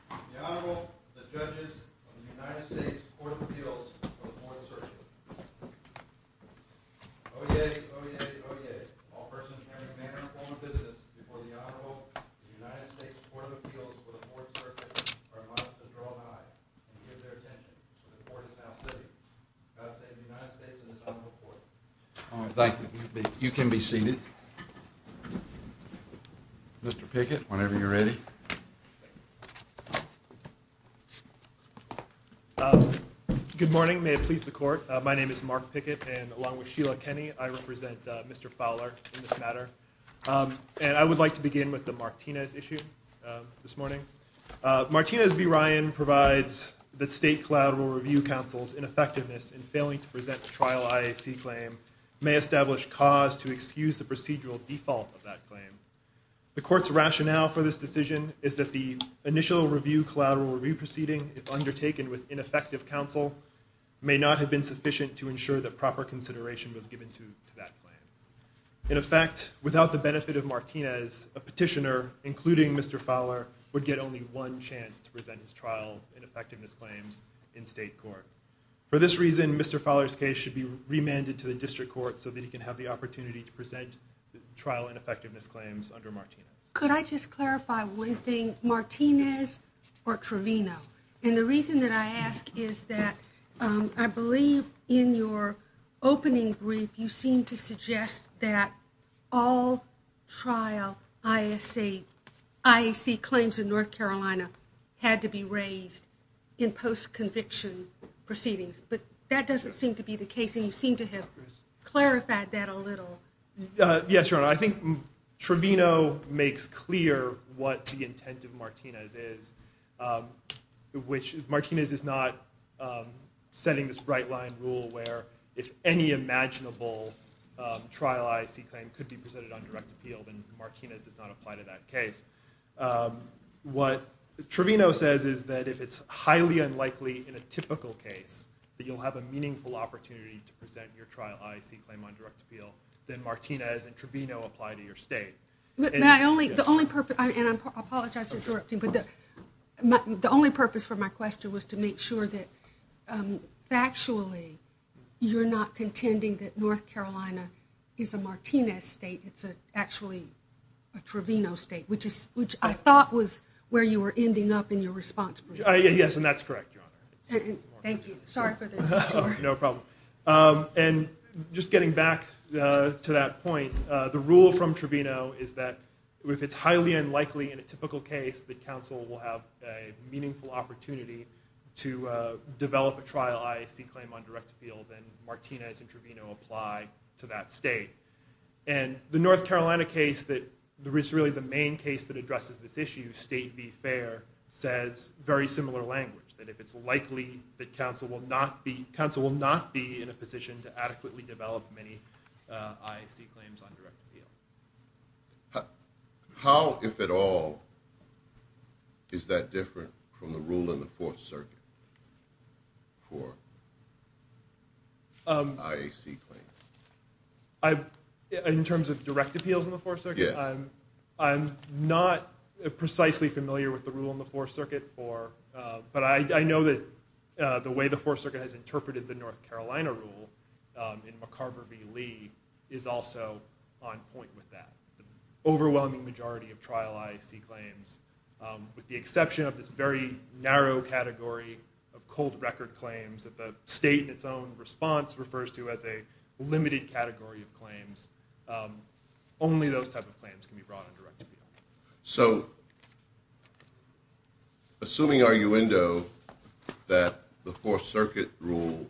The Honorable, the Judges of the United States Court of Appeals for the Fourth Circuit. Oyez, oyez, oyez. All persons are in the manner of formal business before the Honorable, the United States Court of Appeals for the Fourth Circuit, are admonished to draw their eyes and give their attention to the Court of Justice, the United States and the Federal Court. Thank you. You can be seated. Mr. Pickett, whenever you're ready. Good morning. May it please the Court. My name is Mark Pickett, and along with Sheila Tenney, I represent Mr. Fowler in this matter. And I would like to begin with the Martinez issue this morning. Martinez v. Ryan provides that state collateral review counsel's ineffectiveness in failing to present a trial IAC claim may establish cause to excuse the procedural default of that claim. The Court's rationale for this decision is that the initial review collateral review proceeding undertaken with ineffective counsel may not have been sufficient to ensure that proper consideration was given to that claim. In effect, without the benefit of Martinez, a petitioner, including Mr. Fowler, would get only one chance to present his trial ineffectiveness claims in state court. For this reason, Mr. Fowler's case should be remanded to the district court so that he can have the opportunity to present trial ineffectiveness claims under Martinez. Could I just clarify one thing? Martinez or Trevino? Yes. And the reason that I ask is that I believe in your opening brief, you seem to suggest that all trial IAC claims in North Carolina had to be raised in post-conviction proceedings. But that doesn't seem to be the case, and you seem to have clarified that a little. Yes, Your Honor. I think Trevino makes clear what the intent of Martinez is, which is Martinez is not setting this right-line rule where if any imaginable trial IAC claim could be presented on direct appeal, then Martinez does not apply to that case. What Trevino says is that if it's highly unlikely in a typical case, that you'll have a meaningful opportunity to present your trial IAC claim on direct appeal, then Martinez and Trevino apply to your state. The only purpose for my question was to make sure that factually you're not contending that North Carolina is a Martinez state, it's actually a Trevino state, which I thought was where you were ending up in your response. Thank you. Sorry for the interruption. No problem. And just getting back to that point, the rule from Trevino is that if it's highly unlikely in a typical case, that counsel will have a meaningful opportunity to develop a trial IAC claim on direct appeal, then Martinez and Trevino apply to that state. And the North Carolina case that is really the main case that addresses this issue, State v. Fair, says very similar language, that if it's likely that counsel will not be in a position to adequately develop many IAC claims on direct appeal. How, if at all, is that different from the rule in the Fourth Circuit for IAC claims? In terms of direct appeals in the Fourth Circuit, I'm not precisely familiar with the rule in the Fourth Circuit, but I know that the way the Fourth Circuit has interpreted the North Carolina rule in McCarver v. Lee is also on point with that. The overwhelming majority of trial IAC claims, with the exception of this very narrow category of cold record claims that the state in its own response refers to as a limited category of claims, only those type of claims can be brought on direct appeal. So, assuming, arguendo, that the Fourth Circuit rule,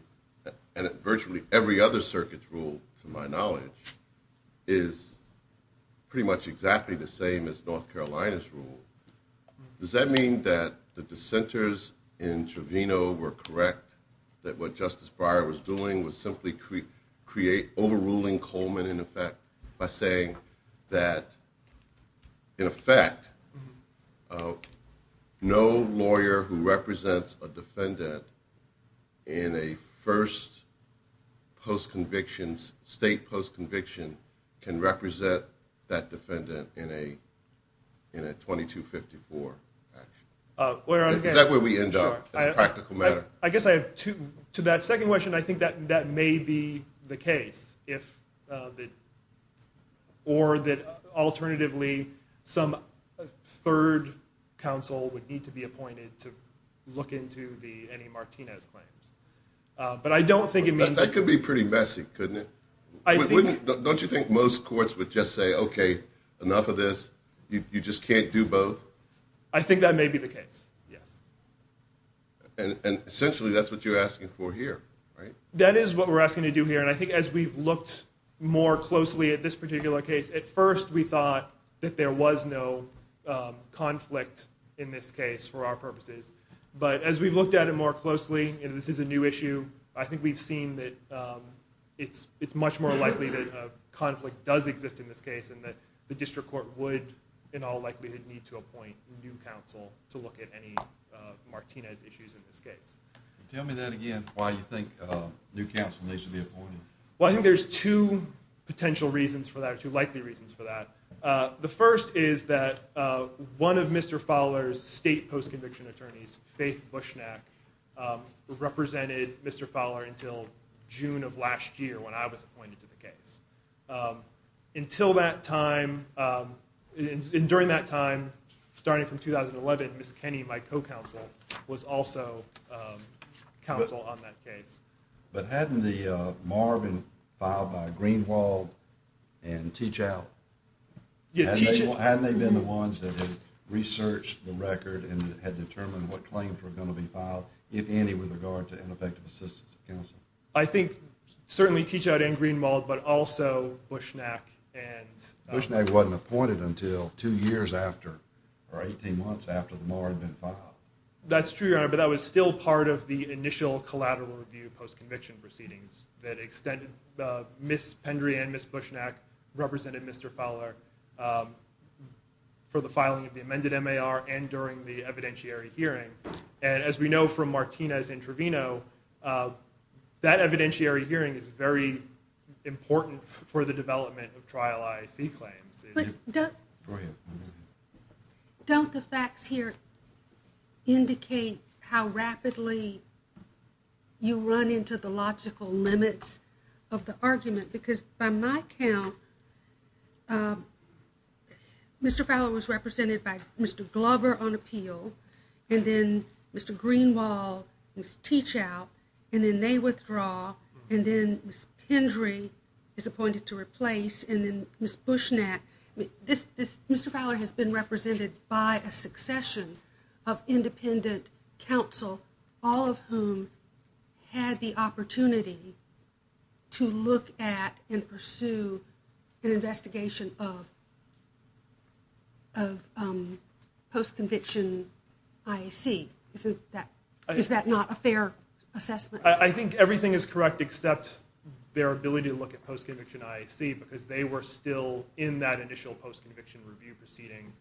and virtually every other circuit rule to my knowledge, is pretty much exactly the same as North Carolina's rule, does that mean that the dissenters in Trevino were correct that what Justice Breyer was doing was simply overruling Coleman in effect by saying that, in effect, no lawyer who represents a defendant in a first post-conviction, state post-conviction, can represent that defendant in a 2254? Is that where we end up? I guess to that second question, I think that may be the case. Or that, alternatively, some third counsel would need to be appointed to look into any Martinez claims. That could be pretty messy, couldn't it? Don't you think most courts would just say, okay, enough of this, you just can't do both? I think that may be the case, yes. And, essentially, that's what you're asking for here, right? That is what we're asking to do here, and I think as we've looked more closely at this particular case, at first we thought that there was no conflict in this case for our purposes. But as we've looked at it more closely, and this is a new issue, I think we've seen that it's much more likely that a conflict does exist in this case, and that the district court would, in all likelihood, need to appoint a new counsel to look at any Martinez issues in this case. Tell me that again, why you think new counsel needs to be appointed. Well, I think there's two potential reasons for that, two likely reasons for that. The first is that one of Mr. Fowler's state post-conviction attorneys, Faith Bushnack, represented Mr. Fowler until June of last year when I was appointed to the case. Until that time, and during that time, starting from 2011, Miss Kenny, my co-counsel, was also counsel on that case. But hadn't the MAR been filed by Greenwald and Teachout? Hadn't they been the ones that had researched the record and had determined what claims were going to be filed, if any, with regard to ineffective assistance to counsel? I think certainly Teachout and Greenwald, but also Bushnack. Bushnack wasn't appointed until two years after, or 18 months after the MAR had been filed. That's true, Your Honor, but that was still part of the initial collateral review post-conviction proceedings that extended Miss Pendry and Miss Bushnack represented Mr. Fowler for the filing of the amended MAR and during the evidentiary hearing. And as we know from Martinez and Trevino, that evidentiary hearing is very important for the development of trial IAC claims. But don't the facts here indicate how rapidly you run into the logical limits of the argument? Because by my count, Mr. Fowler was represented by Mr. Glover on appeal, and then Mr. Greenwald, Miss Teachout, and then they withdraw, and then Miss Pendry is appointed to replace, and then Miss Bushnack. Mr. Fowler has been represented by a succession of independent counsel, all of whom had the opportunity to look at and pursue an investigation of post-conviction IAC. Is that not a fair assessment? I think everything is correct except their ability to look at post-conviction IAC because they were still in that initial post-conviction review proceeding,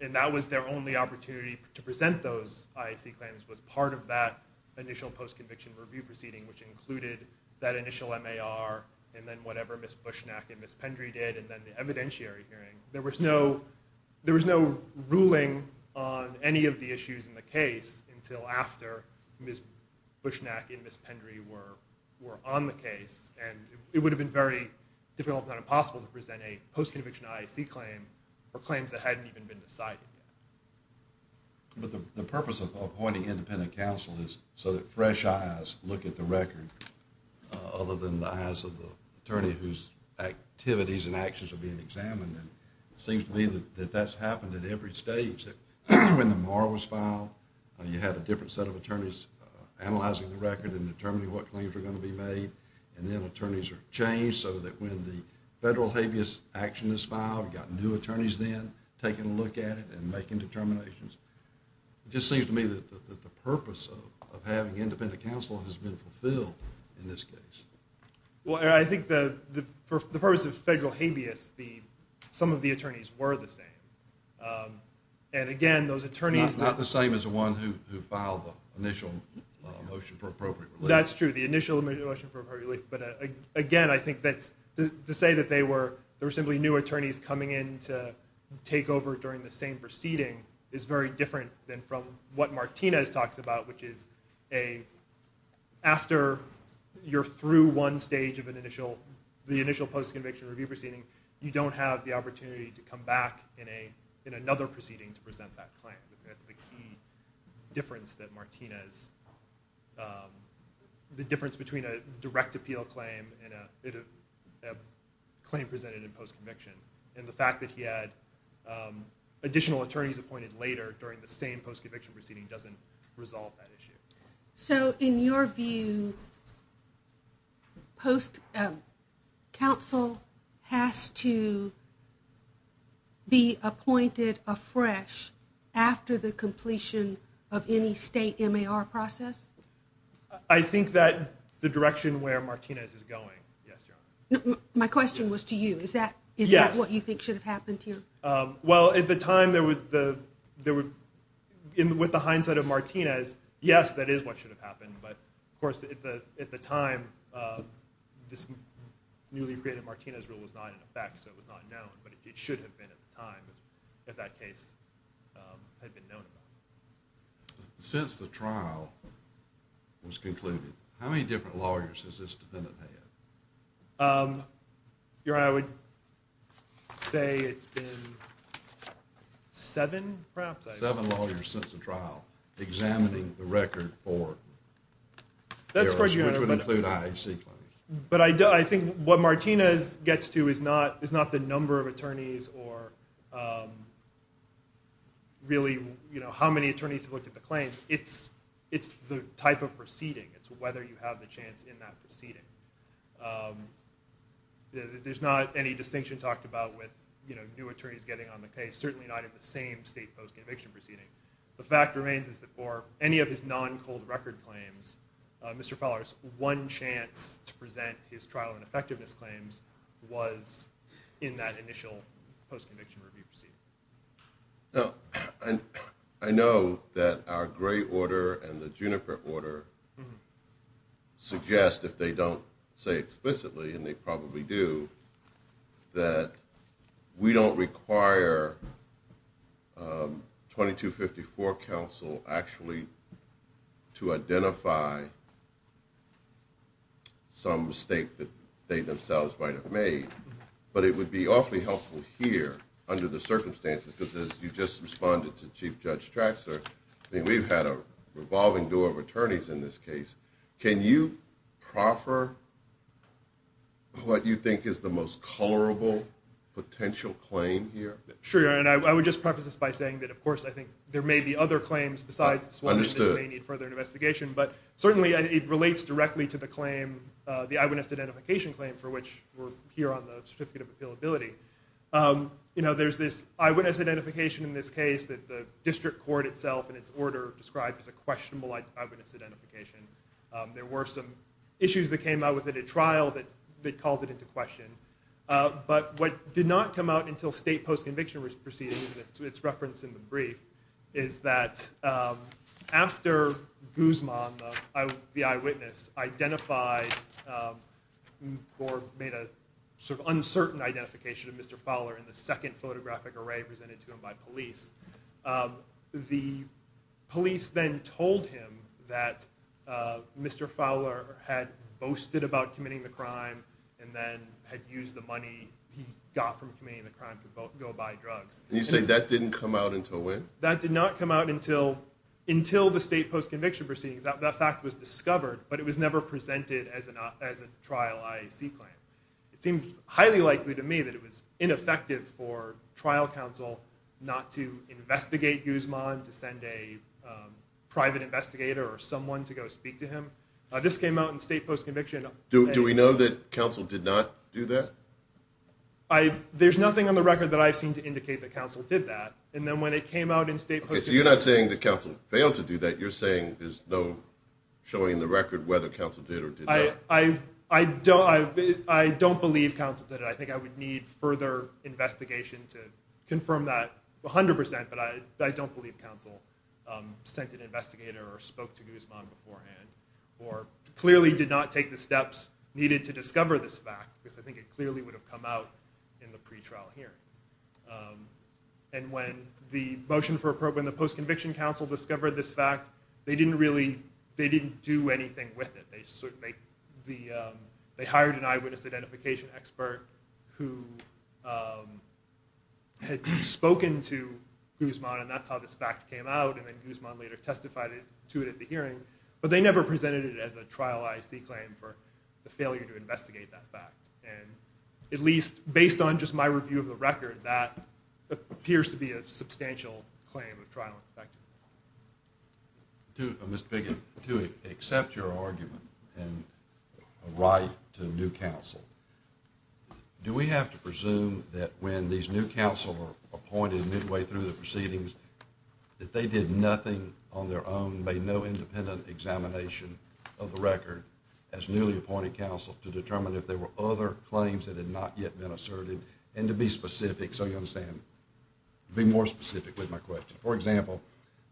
and that was their only opportunity to present those IAC claims was part of that initial post-conviction review proceeding, which included that initial MAR and then whatever Miss Bushnack and Miss Pendry did, and then the evidentiary hearing. There was no ruling on any of the issues in the case until after Miss Bushnack and Miss Pendry were on the case, and it would have been very difficult if not impossible to present a post-conviction IAC claim for claims that hadn't even been decided. The purpose of appointing independent counsel is so that fresh eyes look at the record other than the eyes of the attorney whose activities and actions are being examined, and it seems to me that that's happened at every stage. When the MAR was filed, you had a different set of attorneys analyzing the record and determining what claims are going to be made, and then attorneys are changed so that when the federal habeas action is filed, you've got new attorneys then taking a look at it and making determinations. It just seems to me that the purpose of having independent counsel has been fulfilled in this case. Well, I think the purpose of federal habeas, some of the attorneys were the same, and again, those attorneys... Not the same as the one who filed the initial motion for appropriate relief. That's true, the initial motion for appropriate relief, but again, I think that to say that there were simply new attorneys coming in to take over during the same proceeding is very different than from what Martinez talks about, which is after you're through one stage of the initial post-conviction review proceeding, you don't have the opportunity to come back in another proceeding to present that claim. That's the key difference that Martinez... The difference between a direct appeal claim and a claim presented in post-conviction, and the fact that he had additional attorneys appointed later during the same post-conviction proceeding doesn't resolve that issue. So in your view, counsel has to be appointed afresh after the completion of any state MAR process? I think that the direction where Martinez is going... My question was to you. Is that what you think should have happened to you? Well, at the time there was... With the hindsight of Martinez, yes, that is what should have happened, but of course at the time this newly created Martinez rule was not in effect, so it was not known, but it should have been at the time that that case had been known. Since the trial was concluded, how many different lawyers has this defendant had? Your Honor, I would say it's been seven perhaps? Seven lawyers since the trial examining the record for... That's where you're in a minute. But I think what Martinez gets to is not the number of attorneys or really how many attorneys to look at the claim, it's the type of proceeding. It's whether you have the chance in that proceeding. There's not any distinction talked about with new attorneys getting on the case, certainly not in the same state post-conviction proceeding. The fact remains is that for any of his non-cold record claims, Mr. Fowler's one chance to present his trial and effectiveness claims was in that initial post-conviction review proceeding. Now, I know that our Gray order and the Juniper order suggest, if they don't say explicitly, and they probably do, that we don't require 2254 counsel actually to identify some mistake that they themselves might have made, but it would be awfully helpful here under the circumstances because you just responded to Chief Judge Stratzer and we've had a revolving door of attorneys in this case. Can you proffer what you think is the most colorable potential claim here? Sure, Your Honor, and I would just preface this by saying that, of course, I think there may be other claims besides Swanson that may need further investigation, but certainly it relates directly to the claim, the eyewitness identification claim, for which we're here on the certificate of appealability. There's this eyewitness identification in this case that the district court itself in its order describes as a questionable eyewitness identification. There were some issues that came out within the trial that called it into question, but what did not come out until state post-conviction proceedings, it's referenced in the brief, is that after Guzman, the eyewitness, identified or made a sort of uncertain identification of Mr. Fowler in the second photographic array presented to him by police, the police then told him that Mr. Fowler had boasted about committing the crime and then had used the money he got from committing the crime to go buy drugs. You say that didn't come out until when? That did not come out until the state post-conviction proceedings. That fact was discovered, but it was never presented as a trial IAC claim. It seems highly likely to me that it was ineffective for trial counsel not to investigate Guzman, to send a private investigator or someone to go speak to him. This came out in state post-conviction. Do we know that counsel did not do that? There's nothing on the record that I've seen to indicate that counsel did that. And then when it came out in state post-conviction... Okay, so you're not saying that counsel failed to do that. You're saying there's no showing in the record whether counsel did or did not. I don't believe counsel did it. I think I would need further investigation to confirm that 100%, but I don't believe counsel sent an investigator or spoke to Guzman beforehand or clearly did not take the steps needed to discover this fact because I think it clearly would have come out in the pretrial hearing. And when the Motion for Approval and the Post-Conviction Counsel discovered this fact, they didn't do anything with it. They hired an eyewitness identification expert who had spoken to Guzman, and that's how this fact came out, and then Guzman later testified to it at the hearing, but they never presented it as a trial IAC claim for the failure to investigate that fact. And at least based on just my review of the record, that appears to be a substantial claim of trial in effect. Mr. Biggin, to accept your argument and right to new counsel, do we have to presume that when these new counsel are appointed midway through the proceedings that they did nothing on their own, made no independent examination of the record as newly appointed counsel to determine if there were other claims that had not yet been asserted, and to be specific, so you understand, be more specific with my question. For example,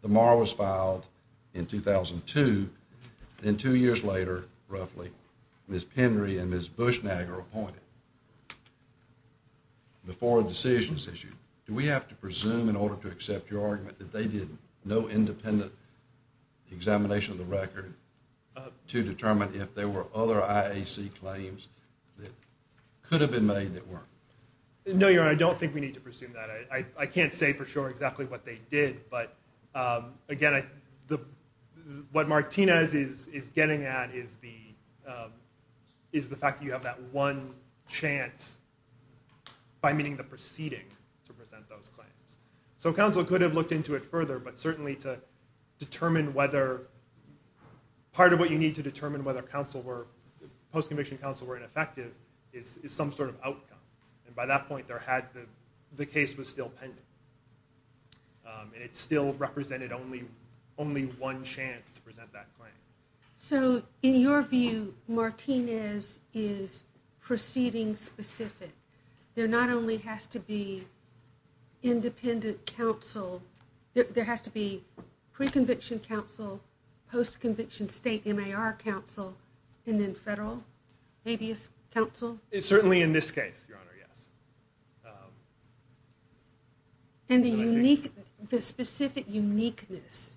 the MAR was filed in 2002, and two years later, roughly, Ms. Henry and Ms. Bushnag are appointed before a decision is issued. Do we have to presume in order to accept your argument that they did no independent examination of the record to determine if there were other IAC claims that could have been made that weren't? No, Your Honor, I don't think we need to presume that. I can't say for sure exactly what they did, but again, what Martinez is getting at is the fact that you have that one chance by meeting the proceeding to present those claims. So counsel could have looked into it further, but certainly to determine whether, part of what you need to determine whether post-commissioned counsel were ineffective is some sort of outcome, and by that point, the case was still pending. It still represented only one chance to present that claim. So in your view, Martinez is proceeding specific. There not only has to be independent counsel, there has to be pre-conviction counsel, post-conviction state MAR counsel, and then federal counsel? Certainly in this case, Your Honor, yes. And the specific uniqueness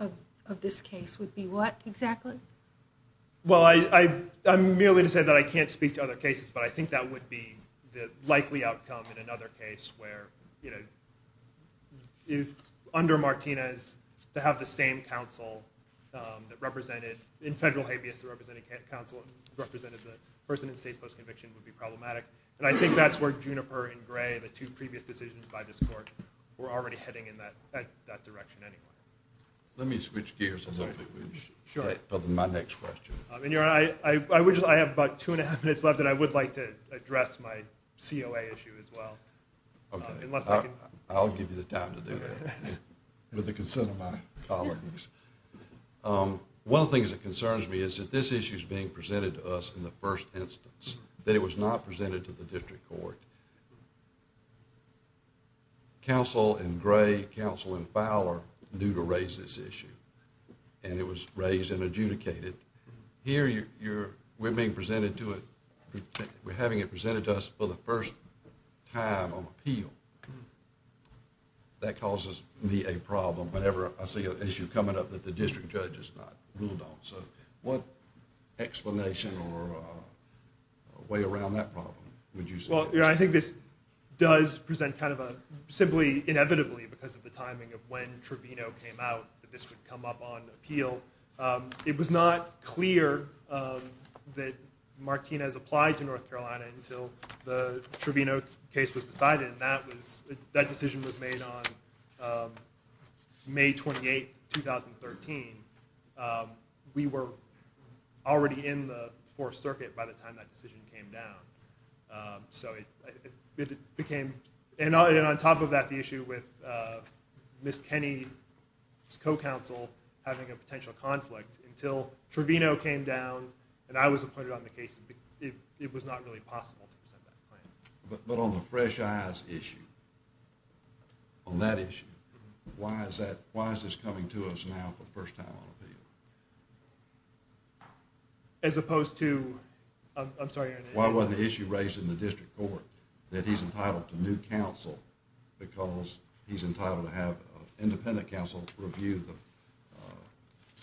of this case would be what exactly? Well, I merely said that I can't speak to other cases, but I think that would be the likely outcome in another case where under Martinez, to have the same counsel that represented, in federal habeas to represent a counsel that represented the person in state post-conviction would be problematic, and I think that's where Juniper and Gray, the two previous decisions by this Court, were already heading in that direction anyway. Let me switch gears a little bit. Sure. My next question. Your Honor, I have about two and a half minutes left, and then I would like to address my COA issue as well. Okay. I'll give you the time to do that, with the concern of my colleagues. One of the things that concerns me is that this issue is being presented to us in the first instance, that it was not presented to the District Court. Counsel in Gray, counsel in Fowler, knew to raise this issue, and it was raised and adjudicated. Here, we're having it presented to us for the first time on appeal. That causes me a problem whenever I see an issue coming up that the District Judge has not ruled on. So what explanation or way around that problem would you say? Well, I think this does present kind of a, simply inevitably because of the timing of when Trevino came out, that this would come up on appeal. It was not clear that Martinez applied to North Carolina until the Trevino case was decided, and that decision was made on May 28, 2013. We were already in the Fourth Circuit by the time that decision came down. So it became, and on top of that, the issue with Miss Penny's co-counsel having a potential conflict, until Trevino came down and I was appointed on the case, it was not really possible. But on the Fresh Eyes issue, on that issue, why is this coming to us now for the first time on appeal? As opposed to, I'm sorry. Why was the issue raised in the District Court, that he's entitled to new counsel because he's entitled to have independent counsel to review the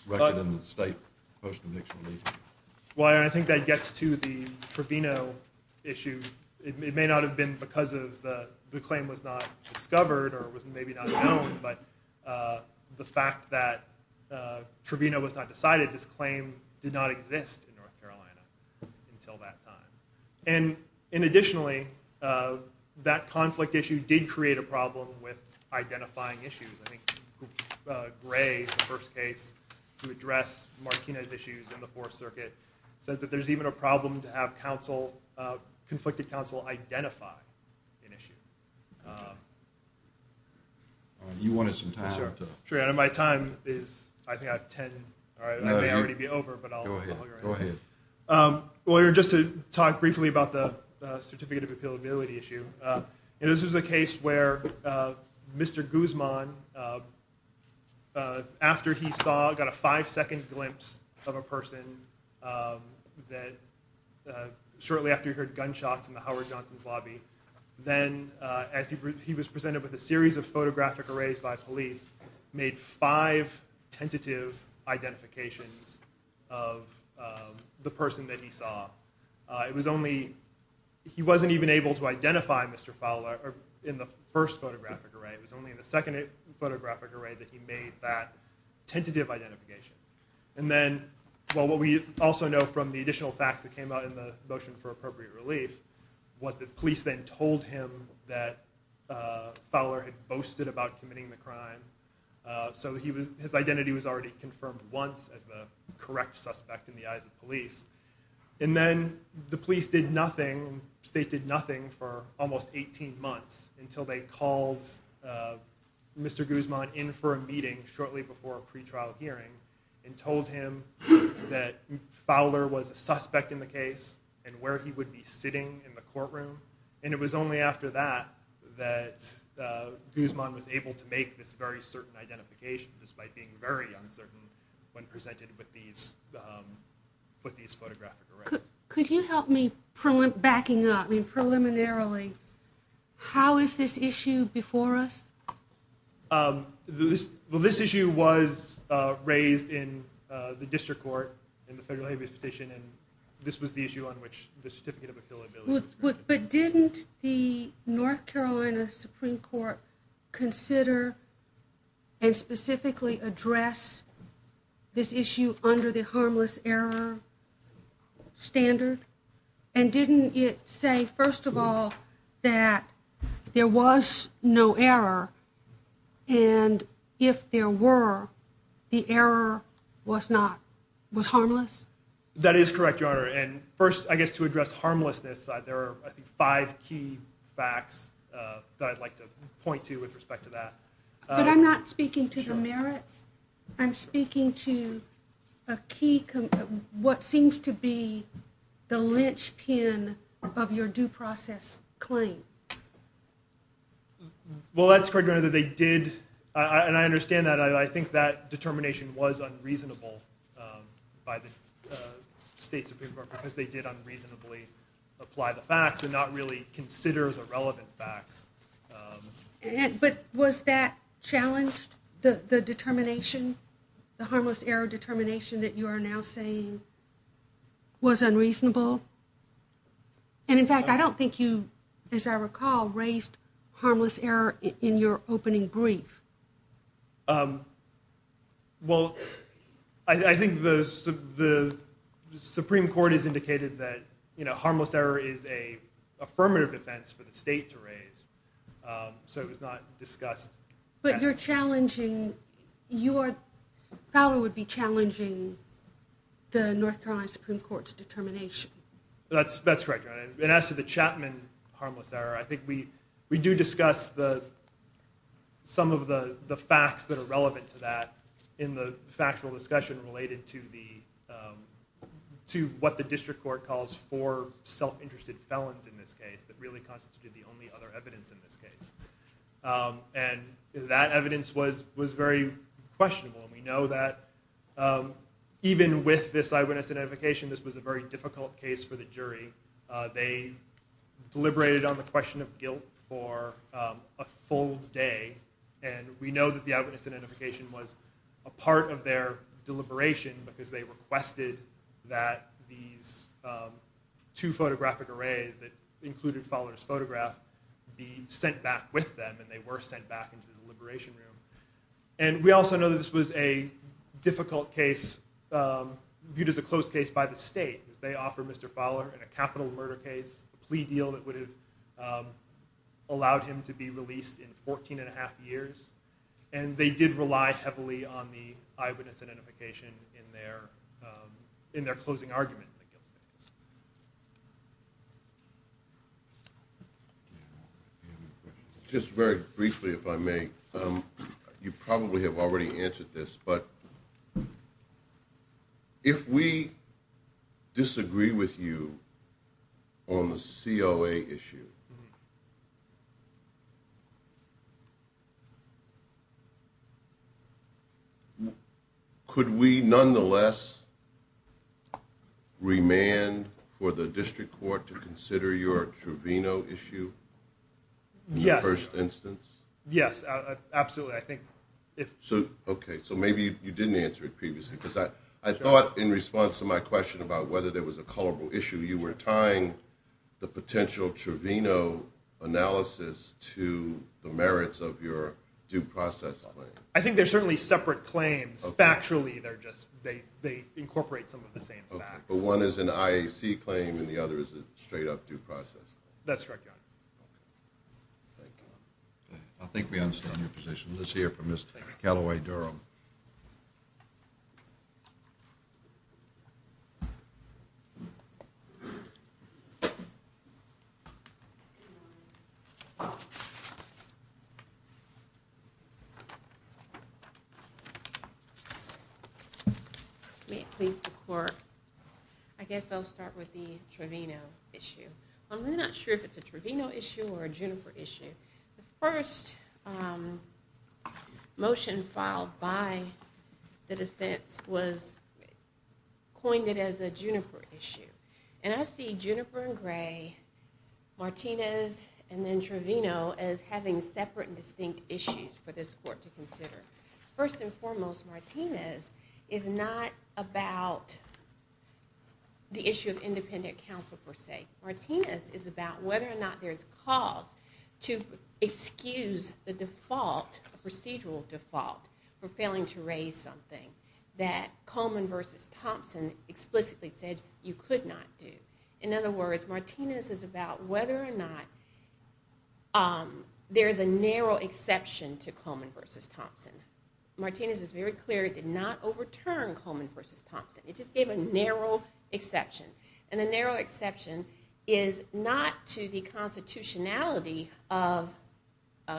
record in the state first and next release? Well, I think that gets to the Trevino issue. It may not have been because the claim was not discovered or was maybe not known, but the fact that Trevino was not decided, this claim did not exist in North Carolina until that time. And additionally, that conflict issue did create a problem with identifying issues. I think Gray, in the first case, who addressed Martina's issues in the Fourth Circuit, said that there's even a problem to have counsel, conflicted counsel, identify an issue. You wanted some time. Sure, and my time is, I think I have 10. I may already be over, but I'll go ahead. Go ahead. Well, just to talk briefly about the certificate of appealability issue, this is a case where Mr. Guzman, after he saw, got a five-second glimpse of a person that shortly after he heard gunshots in the Howard Johnson's lobby, then as he was presented with a series of photographic arrays by police, made five tentative identifications of the person that he saw. He wasn't even able to identify Mr. Fowler in the first photographic array. It was only in the second photographic array that he made that tentative identification. And then, well, what we also know from the additional facts that came out in the motion for appropriate relief was that police then told him that Fowler had boasted about committing the crime. So his identity was already confirmed once as the correct suspect in the eyes of police. And then the police did nothing, state did nothing for almost 18 months until they called Mr. Guzman in for a meeting shortly before a pretrial hearing and told him that Fowler was a suspect in the case and where he would be sitting in the courtroom. And it was only after that that Guzman was able to make this very certain identification, despite being very uncertain when presented with these photographic arrays. Could you help me, backing up, I mean preliminarily, how is this issue before us? Well, this issue was raised in the district court in the federal habeas petition, and this was the issue on which the Certificate of Affiliability... But didn't the North Carolina Supreme Court consider and specifically address this issue under the harmless error standard? And didn't it say, first of all, that there was no error, and if there were, the error was harmless? That is correct, Your Honor. And first, I guess to address harmlessness, there are five key facts that I'd like to point to with respect to that. But I'm not speaking to the merits. I'm speaking to a key, what seems to be the linchpin of your due process claim. Well, that's correct, Your Honor. They did, and I understand that, and I think that determination was unreasonable by the state Supreme Court, because they did unreasonably apply the facts, and not really consider the relevant facts. But was that challenged, the determination, the harmless error determination that you are now saying was unreasonable? And in fact, I don't think you, as I recall, raised harmless error in your opening brief. Well, I think the Supreme Court has indicated that harmless error is an affirmative defense for the state to raise. So it was not discussed. But you're challenging, your fellow would be challenging the North Carolina Supreme Court's determination. That's correct, Your Honor. And as to the Chapman harmless error, I think we do discuss some of the facts that are relevant to that in the factual discussion related to what the district court calls for self-interested felons in this case, that really constitute the only other evidence in this case. And that evidence was very questionable. We know that even with this eyewitness identification, this was a very difficult case for the jury. They deliberated on the question of guilt for a full day, and we know that the eyewitness identification was a part of their deliberation, because they requested that these two photographic arrays that included Fowler's photograph be sent back with them, and they were sent back into the deliberation room. And we also know that this was a difficult case viewed as a closed case by the state. They offered Mr. Fowler a capital murder case, a plea deal that would have allowed him to be released in 14 and a half years, and they did rely heavily on the eyewitness identification in their closing argument. Just very briefly, if I may, you probably have already answered this, but if we disagree with you on the COA issue, could we nonetheless remand for the district court to consider your Trevino issue in the first instance? Yes, absolutely. Okay, so maybe you didn't answer it previously, because I thought in response to my question about whether there was a culpable issue, you were tying the potential Trevino analysis to the merits of your due process claim. I think they're certainly separate claims. Factually, they incorporate some of the same facts. But one is an IAC claim, and the other is a straight-up due process. That's right, John. I think we understand your position. Let's hear from Ms. Callaway-Durham. May it please the Court, I guess I'll start with the Trevino issue. I'm really not sure if it's a Trevino issue or a Juniper issue. from the statute of limitations. The defense was coined as a Juniper issue. And I see Juniper and Gray, Martinez, and then Trevino as having separate and distinct issues for this Court to consider. First and foremost, Martinez is not about the issue of independent counsel, per se. Martinez is about whether or not there's cause to excuse the default, the procedural default, for failing to raise something that Coleman versus Thompson explicitly said you could not do. In other words, Martinez is about whether or not there's a narrow exception to Coleman versus Thompson. Martinez is very clear it did not overturn Coleman versus Thompson. It just gave a narrow exception. And the narrow exception is not to the constitutionality of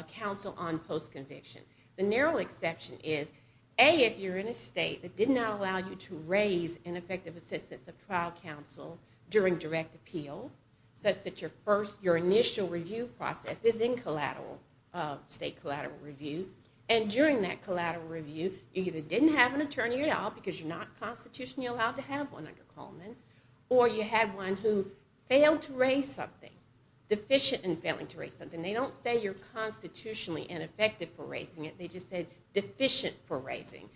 counsel on post-conviction. The narrow exception is, A, if you're in a state that did not allow you to raise ineffective assistance of trial counsel during direct appeal, such that your initial review process is in state collateral review, and during that collateral review you either didn't have an attorney at all because you're not constitutionally allowed to have one under Coleman, or you had one who failed to raise something, deficient in failing to raise something. They don't say you're constitutionally ineffective for raising it. They just say deficient for raising.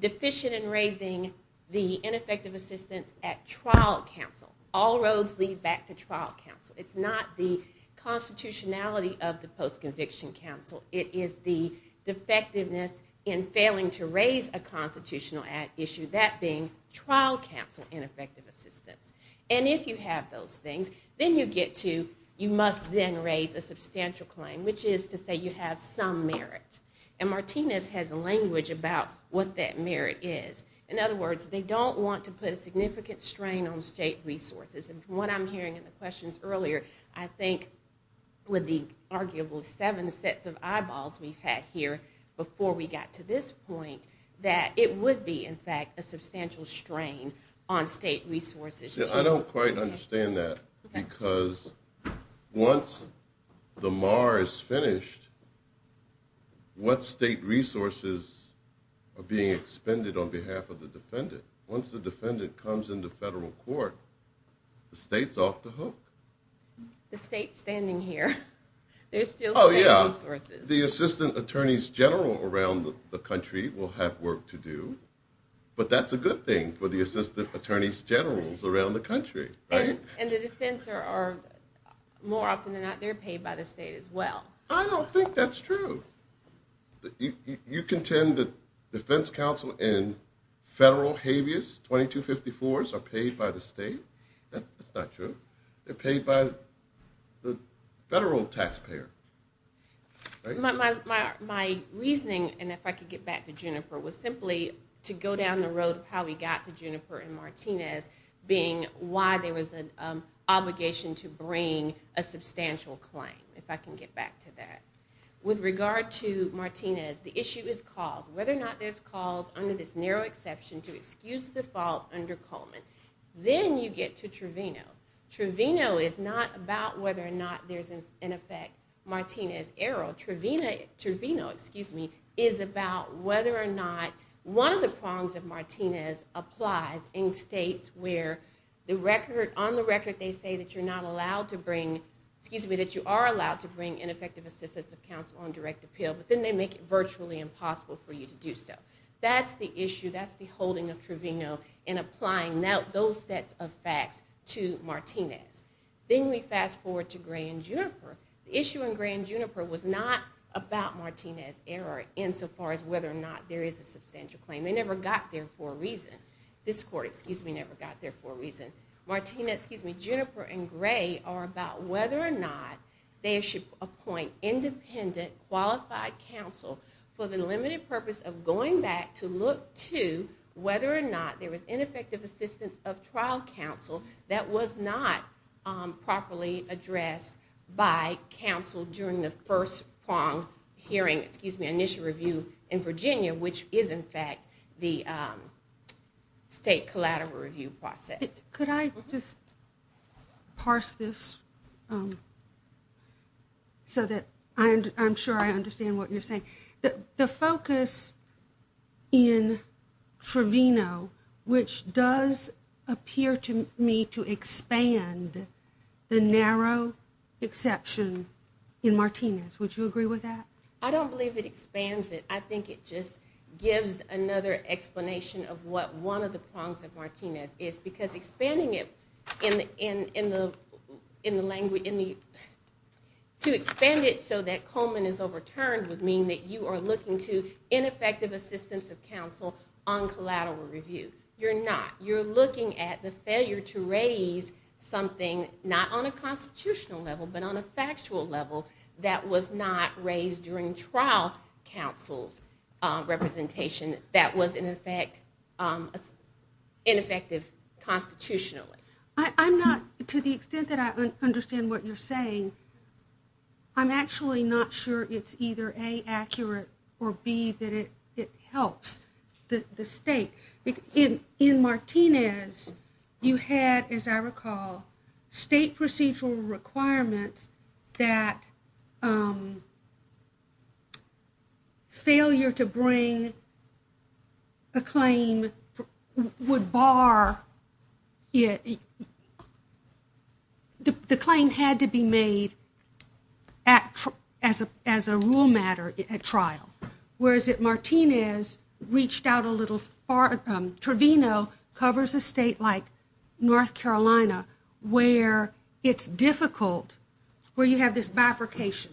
Deficient in raising the ineffective assistance at trial counsel. All roads lead back to trial counsel. It's not the constitutionality of the post-conviction counsel. It is the defectiveness in failing to raise a constitutional issue, that being trial counsel ineffective assistance. And if you have those things, then you get to, you must then raise a substantial claim, which is to say you have some merit. And Martinez has language about what that merit is. In other words, they don't want to put a significant strain on state resources. And from what I'm hearing in the questions earlier, I think with the arguably seven sets of eyeballs we've had here before we got to this point, that it would be, in fact, a substantial strain on state resources. I don't quite understand that, because once the MAR is finished, what state resources are being expended on behalf of the defendant? Once the defendant comes into federal court, the state's off the hook. The state's standing here. Oh, yeah. The assistant attorneys general around the country will have work to do. But that's a good thing for the assistant attorneys generals around the country. And the defense are more often than not, they're paid by the state as well. I don't think that's true. You contend that defense counsel and federal habeas 2254s are paid by the state. That's not true. They're paid by the federal taxpayer. My reasoning, and if I could get back to Jennifer, was simply to go down the road of how we got to Jennifer and Martinez, being why there was an obligation to bring a substantial claim, if I can get back to that. With regard to Martinez, the issue is cause. Whether or not there's cause, under this narrow exception, to excuse the fault under Coleman. Then you get to Truvino. Truvino is not about whether or not there's, in effect, Martinez error. Truvino, excuse me, is about whether or not one of the prongs of Martinez applies in states where on the record they say that you're not allowed to bring, excuse me, that you are allowed to bring ineffective assistance of counsel on direct appeal, but then they make it virtually impossible for you to do so. That's the issue, that's the holding of Truvino in applying those sets of facts to Martinez. Then we fast forward to Gray and Juniper. The issue in Gray and Juniper was not about Martinez error insofar as whether or not there is a substantial claim. They never got there for a reason. This court, excuse me, never got there for a reason. Martinez, excuse me, Juniper and Gray are about whether or not they should appoint independent, qualified counsel for the limited purpose of going back to look to whether or not there was ineffective assistance of trial counsel that was not properly addressed by counsel during the first prong hearing, excuse me, initial review in Virginia, which is in fact the State Collateral Review process. Could I just parse this so that I'm sure I understand what you're saying? The focus in Truvino, which does appear to me to expand the narrow exception in Martinez. Would you agree with that? I don't believe it expands it. I think it just gives another explanation of what one of the prongs of Martinez is. Because expanding it so that Coleman is overturned would mean that you are looking to ineffective assistance of counsel on collateral review. You're not. You're looking at the failure to raise something, not on a constitutional level, but on a factual level, that was not raised during trial counsel representation that was ineffective constitutionally. To the extent that I understand what you're saying, I'm actually not sure it's either A, accurate, or B, that it helps the State. In Martinez, you had, as I recall, State procedural requirements that failure to bring a claim would bar it. The claim had to be made as a rule matter at trial, whereas that Martinez reached out a little far. Travino covers a state like North Carolina where it's difficult, where you have this bifurcation.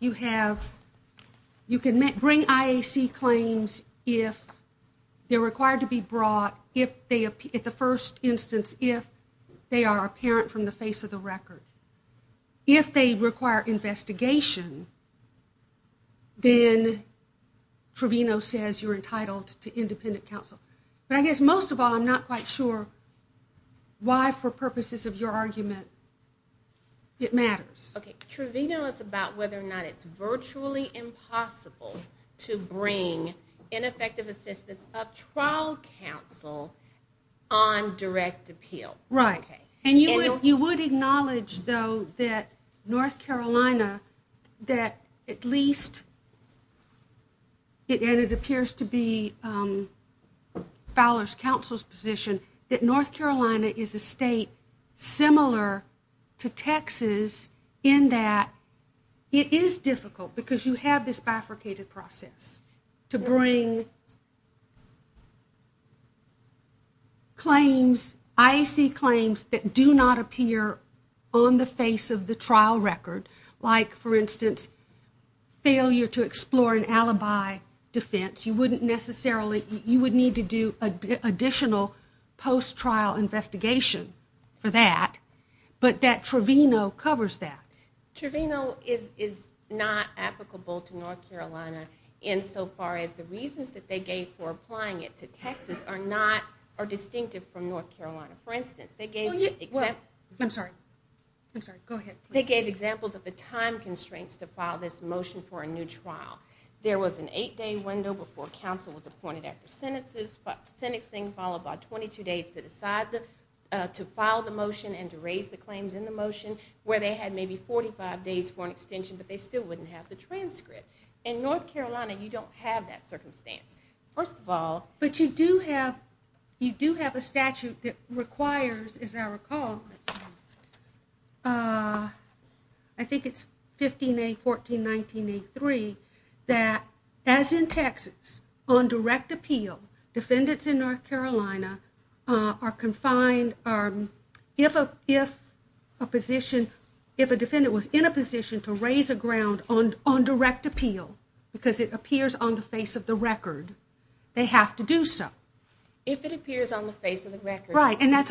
You can bring IAC claims if they're required to be brought, at the first instance, if they are apparent from the face of the record. If they require investigation, then Travino says you're entitled to independent counsel. But I guess most of all I'm not quite sure why for purposes of your argument it matters. Okay. Travino is about whether or not it's virtually impossible to bring ineffective assistance of trial counsel on direct appeal. Right. And you would acknowledge, though, that North Carolina, that at least, and it appears to be Fowler's counsel's position, that North Carolina is a state similar to Texas in that it is difficult, because you have this bifurcated process, to bring claims, IAC claims, that do not appear on the face of the trial record. Like, for instance, failure to explore an alibi defense. You wouldn't necessarily, you would need to do additional post-trial investigation for that. But that Travino covers that. Travino is not applicable to North Carolina insofar as the reasons that they gave for applying it to Texas are not, are distinctive from North Carolina. For instance, they gave examples of the time constraints to file this motion for a new trial. There was an eight-day window before counsel was appointed after sentences, but sentencing followed by 22 days to decide to file the motion and to raise the claims in the motion, where they had maybe 45 days for an extension, but they still wouldn't have the transcript. In North Carolina, you don't have that circumstance. But you do have a statute that requires, as I recall, I think it's 15A.14.19.A.3, that as in Texas, on direct appeal, defendants in North Carolina are confined, if a defendant was in a position to raise a ground on direct appeal, because it appears on the face of the record, they have to do so. If it appears on the face of the record. Right, and that's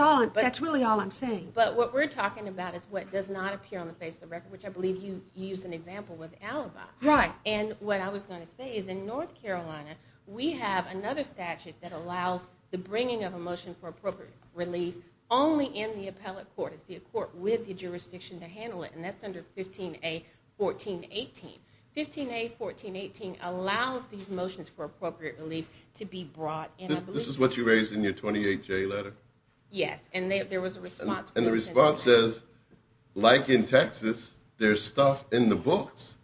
really all I'm saying. But what we're talking about is what does not appear on the face of the record, which I believe you used an example with alibi. Right. And what I was going to say is in North Carolina, we have another statute that allows the bringing of a motion for appropriate release only in the appellate court. It's the court with the jurisdiction to handle it, and that's under 15A.14.18. 15A.14.18 allows these motions for appropriate release to be brought in. This is what you raised in your 28J letter? Yes, and there was a response. And the response says, like in Texas, there's stuff in the books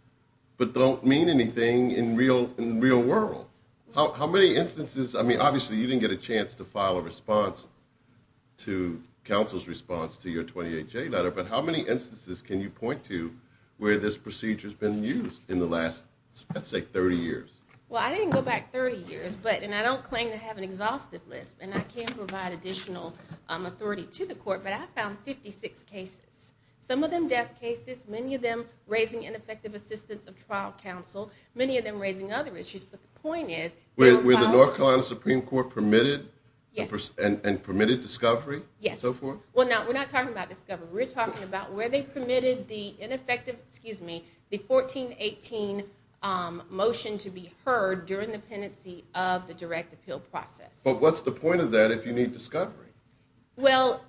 but don't mean anything in the real world. How many instances, I mean, obviously you didn't get a chance to file a response to counsel's response to your 28J letter, but how many instances can you point to where this procedure has been used in the last, let's say, 30 years? Well, I didn't go back 30 years, and I don't claim to have an exhausted list, and I can't provide additional authority to the court, but I found 56 cases, some of them death cases, many of them raising ineffective assistance of trial counsel, many of them raising other issues. But the point is, Were the North Carolina Supreme Court permitted and permitted discovery? Yes. So far? Well, no, we're not talking about discovery. We're talking about where they permitted the ineffective, excuse me, the 1418 motion to be heard during the pendency of the direct appeal process. Well, what's the point of that if you need discovery? Well,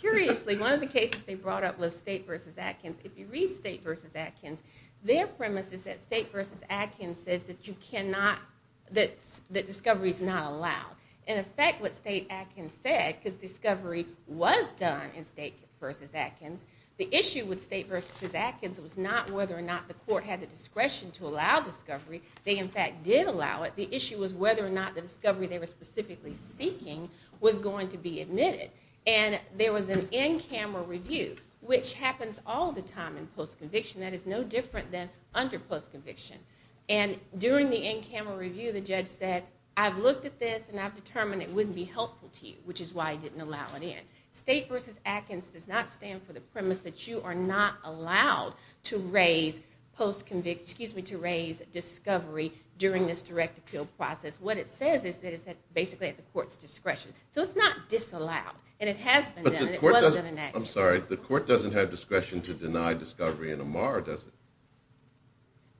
curiously, one of the cases they brought up was State v. Atkins. If you read State v. Atkins, their premise is that State v. Atkins says that you cannot, that discovery is not allowed. In effect, what State v. Atkins said, because discovery was done in State v. Atkins, the issue with State v. Atkins was not whether or not the court had the discretion to allow discovery. They, in fact, did allow it. The issue was whether or not the discovery they were specifically seeking was going to be admitted. And there was an in-camera review, which happens all the time in post-conviction. That is no different than under post-conviction. And during the in-camera review, the judge said, I've looked at this, and I've determined it wouldn't be helpful to you, which is why I didn't allow it in. State v. Atkins does not stand for the premise that you are not allowed to raise discovery during this direct appeal process. What it says is that it's basically at the court's discretion. So it's not disallowed, and it has been done, and it wasn't enacted. I'm sorry. The court doesn't have discretion to deny discovery in a MAR, does it?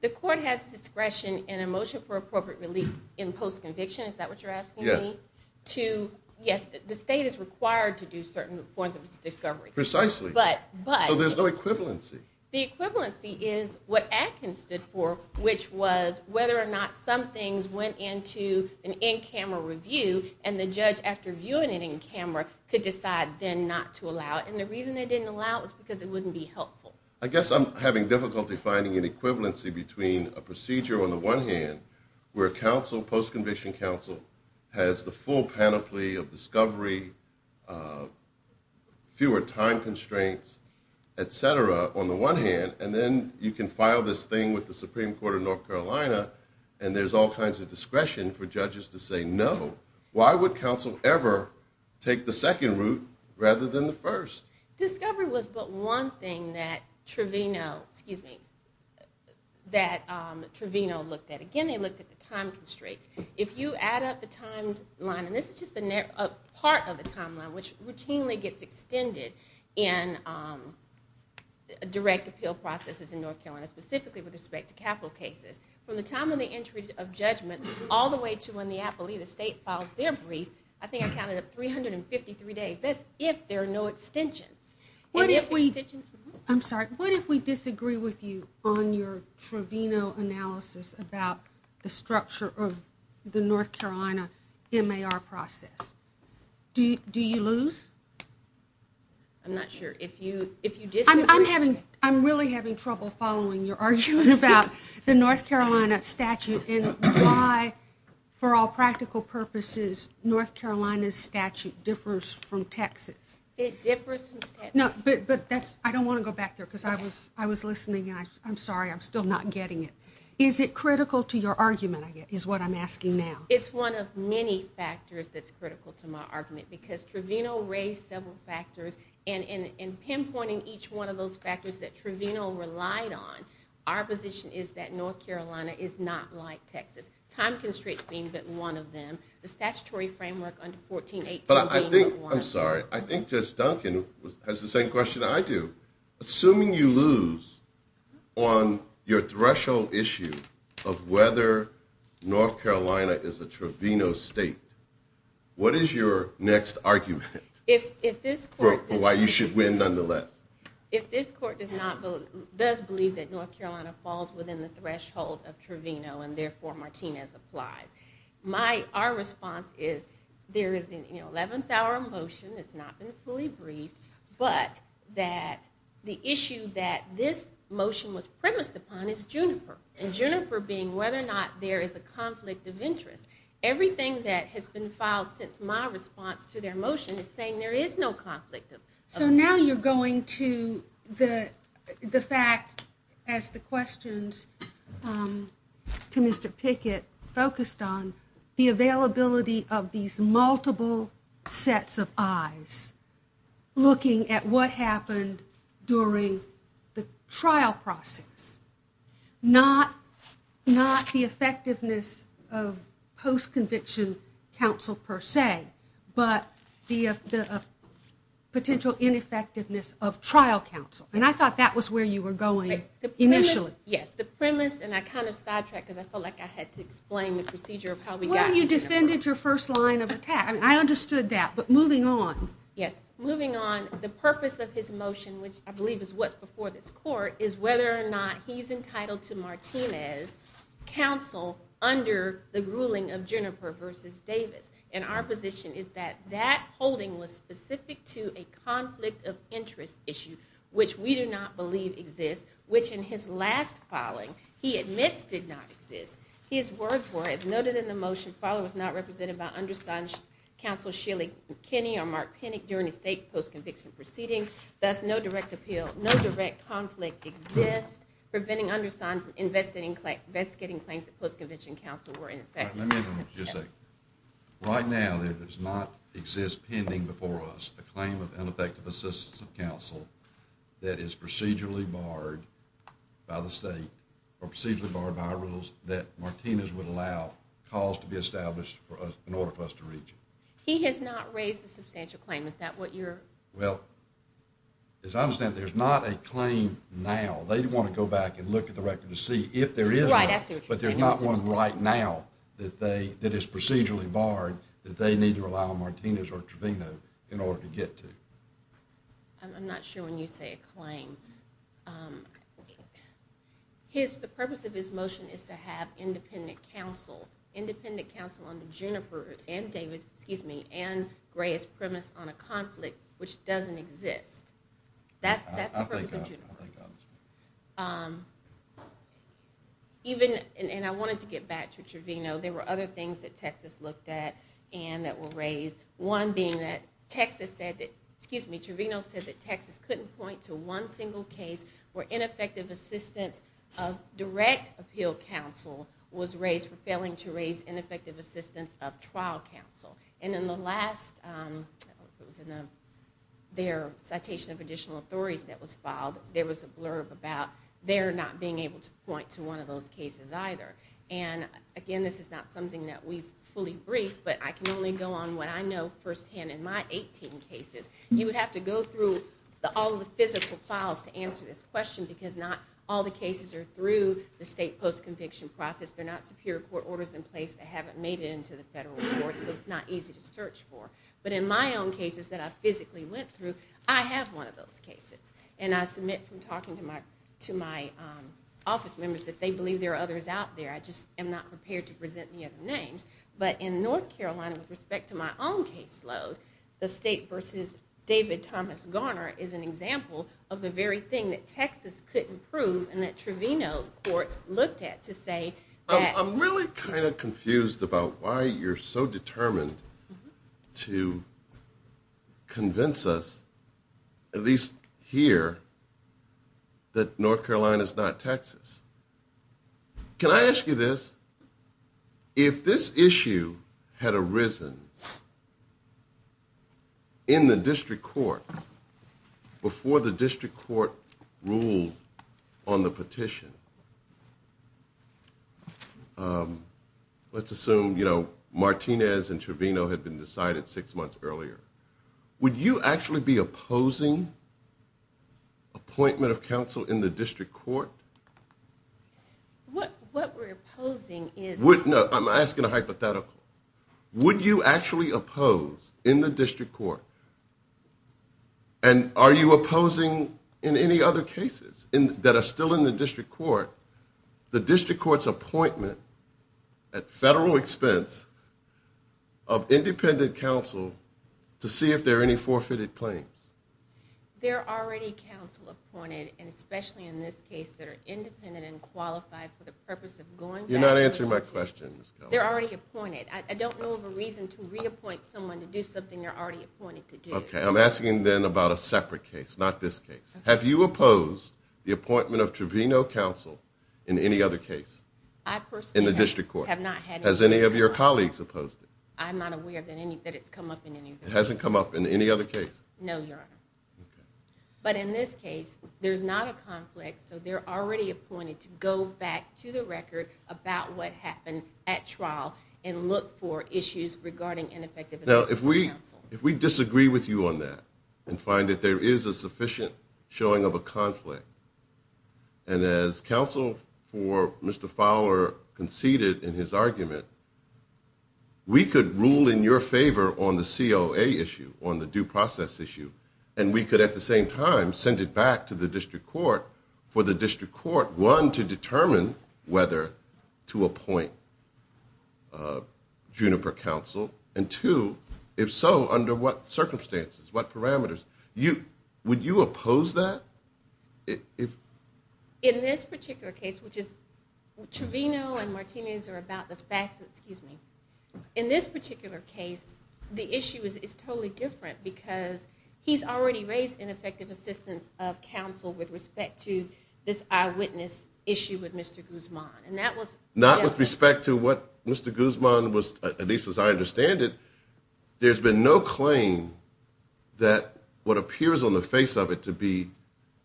The court has discretion in a motion for appropriate release in post-conviction. Is that what you're asking me? Yes. Yes, the state is required to do certain forms of discovery. Precisely. But... So there's no equivalency. The equivalency is what Atkins stood for, which was whether or not some things went into an in-camera review, and the judge, after viewing it in camera, could decide then not to allow it. And the reason they didn't allow it was because it wouldn't be helpful. Well, I guess I'm having difficulty finding an equivalency between a procedure on the one hand, where a post-conviction counsel has the full panoply of discovery, fewer time constraints, et cetera, on the one hand, and then you can file this thing with the Supreme Court of North Carolina, and there's all kinds of discretion for judges to say no. Why would counsel ever take the second route rather than the first? Discovery was the one thing that Trevino looked at. Again, they looked at the time constraints. If you add up the timeline, and this is just a part of the timeline, which routinely gets extended in direct appeal processes in North Carolina, specifically with respect to capital cases, from the time of the entry of judgment all the way to when the appellee, the state, files their brief, I think I counted it, 353 days. That's if there are no extensions. I'm sorry. What if we disagree with you on your Trevino analysis about the structure of the North Carolina MAR process? Do you lose? I'm not sure. I'm really having trouble following your argument about the North Carolina statute and why, for all practical purposes, North Carolina's statute differs from Texas. It differs from Texas. I don't want to go back there because I was listening, and I'm sorry, I'm still not getting it. Is it critical to your argument is what I'm asking now. It's one of many factors that's critical to my argument because Trevino raised several factors, and in pinpointing each one of those factors that Trevino relied on, our position is that North Carolina is not like Texas, time constricting, but one of them. The statutory framework under 1418. I'm sorry. I think Duncan has the same question I do. Assuming you lose on your threshold issue of whether North Carolina is a Trevino state, what is your next argument for why you should win nonetheless? If this court does believe that North Carolina falls within the threshold of Trevino and therefore Martinez applies, our response is there is an 11th hour motion that's not been fully briefed, but that the issue that this motion was premised upon is Juniper, and Juniper being whether or not there is a conflict of interest. Everything that has been filed since my response to their motion is saying there is no conflict. So now you're going to the fact, as the questions to Mr. Pickett focused on, the availability of these multiple sets of eyes, looking at what happened during the trial process, not the effectiveness of post-conviction counsel per se, but the potential ineffectiveness of trial counsel. And I thought that was where you were going initially. Yes. The premise, and I kind of sidetracked because I felt like I had to explain the procedure of how we got here. Well, you defended your first line of attack. I understood that. But moving on. Yes. Moving on, the purpose of this motion, which I believe is what's before this court, is whether or not he's entitled to Martinez' counsel under the ruling of Juniper versus Davis. And our position is that that holding was specific to a conflict of interest issue, which we do not believe exists, which in his last filing he admits did not exist. His words were, as noted in the motion, filed if not represented by undersigned counsel Sheely McKinney or Mark Pinnock during a state post-conviction proceeding. Thus, no direct appeal, no direct conflict exists. Preventing undersigned investigating claims of post-conviction counsel were ineffective. Let me just say, right now there does not exist pending before us a claim of ineffective assistance of counsel that is procedurally barred by the state or procedurally barred by our rules that Martinez would allow cause to be established in order for us to reach. He has not raised a substantial claim. Is that what you're... Well, as I understand it, there's not a claim now. They want to go back and look at the record to see if there is one. But there's not one right now that is procedurally barred that they need to allow Martinez or Trevino in order to get to. I'm not sure when you say a claim. The purpose of this motion is to have independent counsel, independent counsel on the Juniper and David, excuse me, and Gray's premise on a conflict which doesn't exist. That's the purpose of Juniper. Even, and I wanted to get back to Trevino, there were other things that Texas looked at and that were raised. One being that Texas said that, excuse me, Trevino said that Texas couldn't point to one single case where ineffective assistance of direct appeal counsel was raised for failing to raise ineffective assistance of trial counsel. And in their citation of additional authorities that was filed, there was a blurb about their not being able to point to one of those cases either. And again, this is not something that we've fully briefed, but I can only go on what I know firsthand in my 18 cases. You would have to go through all the physical files to answer this question because not all the cases are through the state post-conviction process. They're not superior court orders in place that haven't made it into the federal courts. It's not easy to search for. But in my own cases that I physically went through, I have one of those cases. And I submit from talking to my office members that they believe there are others out there. I just am not prepared to present the other names. But in North Carolina, with respect to my own caseload, the state versus David Thomas Garner is an example of the very thing that Texas couldn't prove and that Trevino's court looked at to say that... I'm really kind of confused about why you're so determined to convince us, at least here, that North Carolina is not Texas. Can I ask you this? If this issue had arisen in the district court, before the district court ruled on the petition, let's assume Martinez and Trevino had been decided six months earlier, would you actually be opposing appointment of counsel in the district court? What we're opposing is... No, I'm asking a hypothetical. Would you actually oppose in the district court, and are you opposing in any other cases that are still in the district court, the district court's appointment at federal expense of independent counsel to see if there are any forfeited claims? There are already counsel appointed, especially in this case that are independent and qualified for the purpose of going back... You're not answering my question. They're already appointed. I don't know of a reason to reappoint someone to do something they're already appointed to do. Okay, I'm asking then about a separate case, not this case. Have you opposed the appointment of Trevino counsel in any other case in the district court? Has any of your colleagues opposed it? I'm not aware that it's come up in any other case. It hasn't come up in any other case? No, your honor. But in this case, there's not a conflict, so they're already appointed to go back to the record about what happened at trial and look for issues regarding ineffectiveness of counsel. Now, if we disagree with you on that and find that there is a sufficient showing of a conflict, and as counsel for Mr. Fowler conceded in his argument, we could rule in your favor on the COA issue, on the due process issue, and we could at the same time send it back to the district court for the district court, one, to determine whether to appoint Juniper counsel, and two, if so, under what circumstances, what parameters? Would you oppose that? In this particular case, Trevino and Martinez are about the facts. In this particular case, the issue is totally different because he's already raised ineffective assistance of counsel with respect to this eyewitness issue with Mr. Guzman. Not with respect to what Mr. Guzman was, at least as I understand it, there's been no claim that what appears on the face of it to be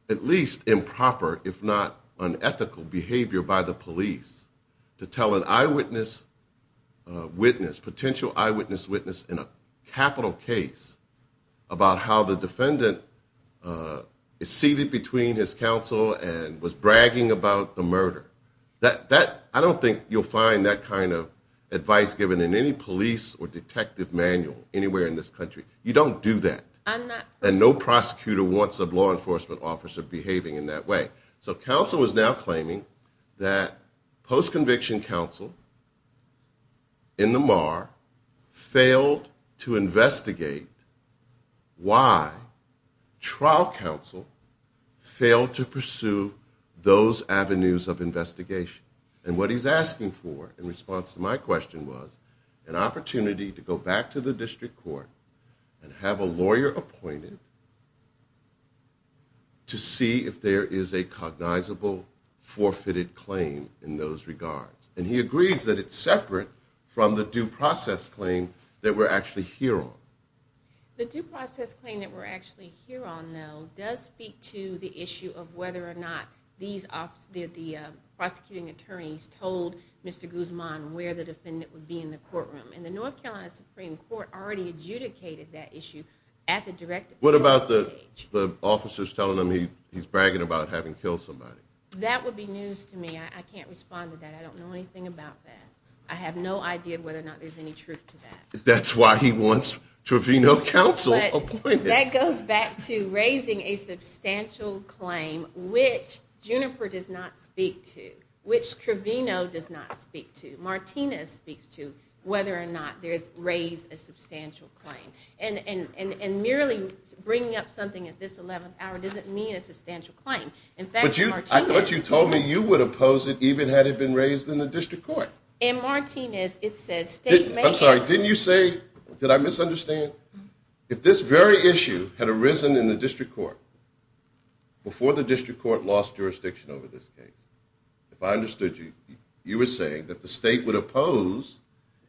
at least improper, if not unethical behavior by the police to tell an eyewitness witness, a potential eyewitness witness in a capital case, about how the defendant is seated between his counsel and was bragging about the murder. I don't think you'll find that kind of advice given in any police or detective manual anywhere in this country. You don't do that. And no prosecutor wants a law enforcement officer behaving in that way. So counsel is now claiming that post-conviction counsel in the MAR failed to investigate why trial counsel failed to pursue those avenues of investigation. And what he's asking for in response to my question was an opportunity to go back to the district court and have a lawyer appointed to see if there is a cognizable forfeited claim in those regards. And he agrees that it's separate from the due process claim that we're actually here on. The due process claim that we're actually here on, though, does speak to the issue of whether or not the prosecuting attorneys told Mr. Guzman where the defendant would be in the courtroom. And the North Carolina Supreme Court already adjudicated that issue. What about the officers telling him he's bragging about having killed somebody? That would be news to me. I can't respond to that. I don't know anything about that. I have no idea whether or not there's any truth to that. That's why he wants Trevino counsel appointed. That goes back to raising a substantial claim which Juniper does not speak to, which Trevino does not speak to, but Martinez speaks to whether or not there's raised a substantial claim. And merely bringing up something at this 11th hour doesn't mean a substantial claim. I thought you told me you would oppose it even had it been raised in the district court. In Martinez, it says statement. I'm sorry, didn't you say, did I misunderstand? If this very issue had arisen in the district court before the district court lost jurisdiction over this case, if I understood you, you were saying that the state would oppose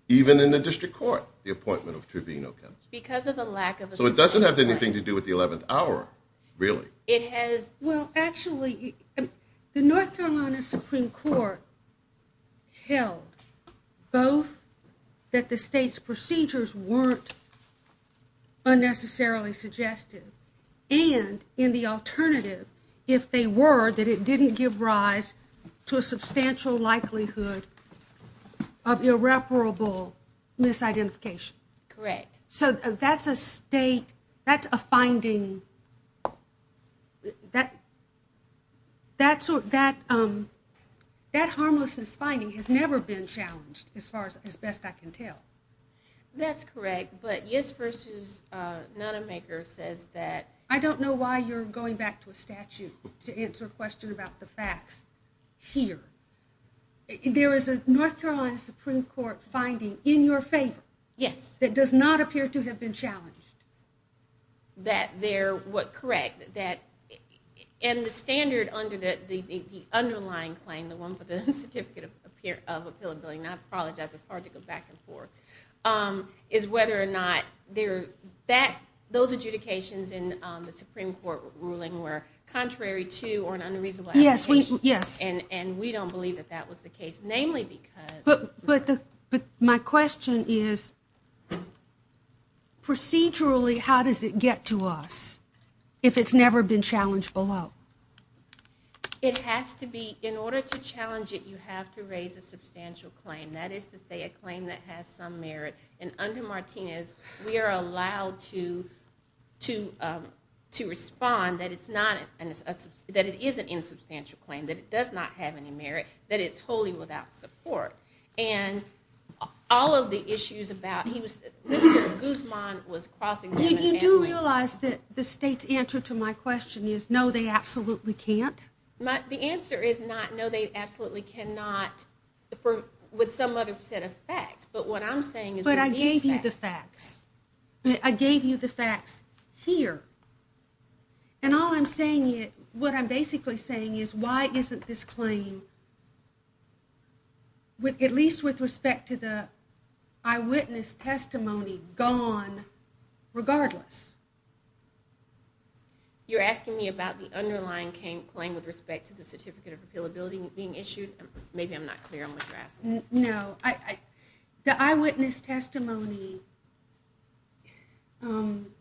even in the district court the appointment of Trevino counsel. So it doesn't have anything to do with the 11th hour, really. Well, actually, the North Carolina Supreme Court held both that the state's procedures weren't unnecessarily suggested and, in the alternative, if they were, that it didn't give rise to a substantial likelihood of irreparable misidentification. Correct. So that's a state, that's a finding. That harmlessness finding has never been challenged as far as best I can tell. That's correct. I don't know why you're going back to a statute to answer a question about the facts here. There is a North Carolina Supreme Court finding in your favor that does not appear to have been challenged. Correct. And the standard under the underlying claim, the one with the certificate of appealability, and I apologize, it's hard to go back and forth, is whether or not those adjudications in the Supreme Court ruling were contrary to or an unreasonable application. Yes. And we don't believe that that was the case, namely because... But my question is, procedurally, how does it get to us if it's never been challenged below? It has to be, in order to challenge it, you have to raise a substantial claim. That is to say a claim that has some merit. And under Martinez, we are allowed to respond that it's not, that it is an insubstantial claim, that it does not have any merit, that it's wholly without support. And all of the issues about, Mr. Guzman was crossing... You do realize that the state's answer to my question is, no, they absolutely can't? The answer is not, no, they absolutely cannot, with some other set of facts. But what I'm saying is... But I gave you the facts. I gave you the facts here. And all I'm saying is, what I'm basically saying is, why isn't this claim, at least with respect to the eyewitness testimony, gone regardless? You're asking me about the underlying claim with respect to the certificate of availability being issued? Maybe I'm not clear on what you're asking. No. The eyewitness testimony... I'm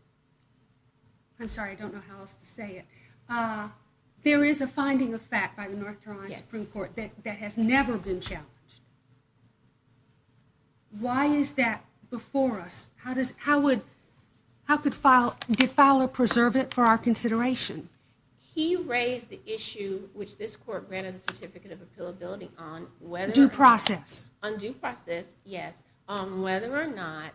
sorry, I don't know how else to say it. There is a finding of fact by the North Carolina Supreme Court that has never been challenged. Why is that before us? How could Fowler preserve it for our consideration? He raised the issue, which this court ran a certificate of availability on... Due process. On due process, yes. Whether or not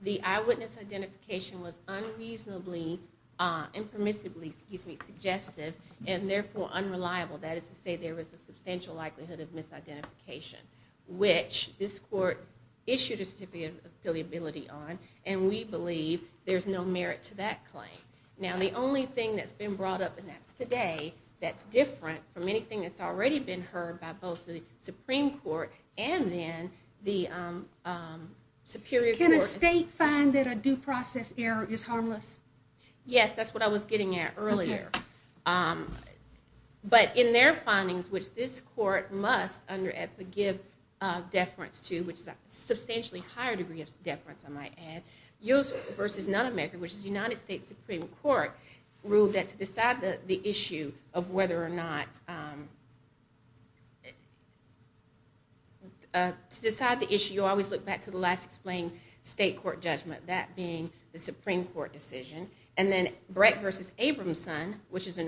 the eyewitness identification was unreasonably, impermissibly, excuse me, suggestive, and therefore unreliable. That is to say, there is a substantial likelihood of misidentification. Which this court issued a certificate of availability on, and we believe there's no merit to that claim. Now, the only thing that's been brought up today that's different from anything that's already been heard by both the Supreme Court and then the Superior Court... Can a state find that a due process error is harmless? Yes, that's what I was getting at earlier. But in their findings, which this court must, under the gift of deference to, which is a substantially higher degree of deference, I might add, U.S. v. Non-American v. United States Supreme Court, ruled that to decide the issue of whether or not... To decide the issue, you always look back to the last explained state court judgment, that being the Supreme Court decision. And then Brett v. Abramson, which is a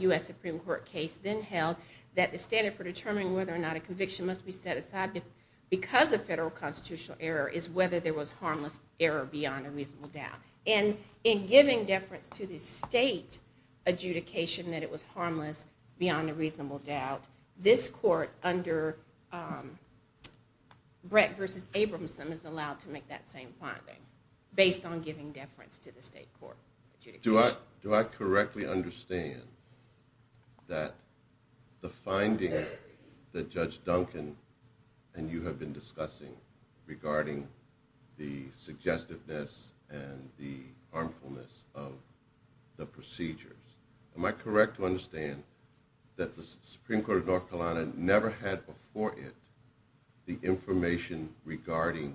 U.S. Supreme Court case, then held that the standard for determining whether or not a conviction must be set aside because of federal constitutional error is whether there was harmless error beyond a reasonable doubt. And in giving deference to the state adjudication that it was harmless beyond a reasonable doubt, this court under Brett v. Abramson is allowed to make that same finding, based on giving deference to the state court adjudication. Do I correctly understand that the finding that Judge Duncan and you have been discussing regarding the suggestiveness and the harmfulness of the procedures, am I correct to understand that the Supreme Court of North Carolina never had before it the information regarding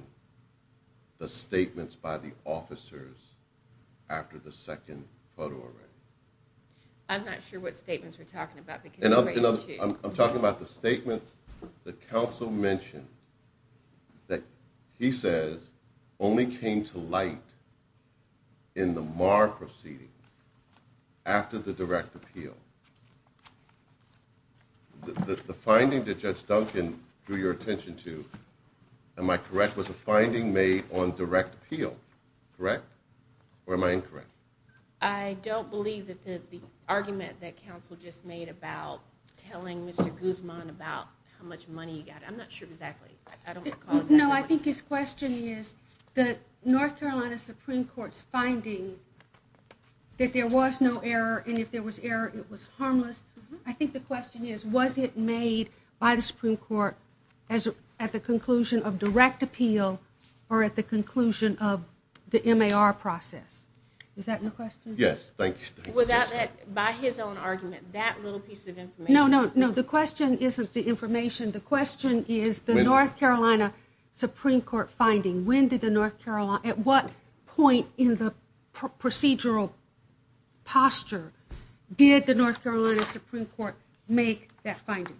the statements by the officers after the second photo arrest? I'm not sure what statements you're talking about. I'm talking about the statement the counsel mentioned that he says only came to light in the Maher proceeding after the direct appeal. The finding that Judge Duncan drew your attention to, am I correct, was a finding made on direct appeal, correct? Or am I incorrect? I don't believe that the argument that counsel just made about telling Mr. Guzman about how much money he got, I'm not sure exactly, I don't recall that. No, I think his question is, the North Carolina Supreme Court's finding that there was no error and if there was error, it was harmless. I think the question is, was it made by the Supreme Court at the conclusion of direct appeal or at the conclusion of the MAR process? Is that the question? Yes, thank you. Was that, by his own argument, that little piece of information? No, the question isn't the information, the question is the North Carolina Supreme Court finding. At what point in the procedural posture did the North Carolina Supreme Court make that finding?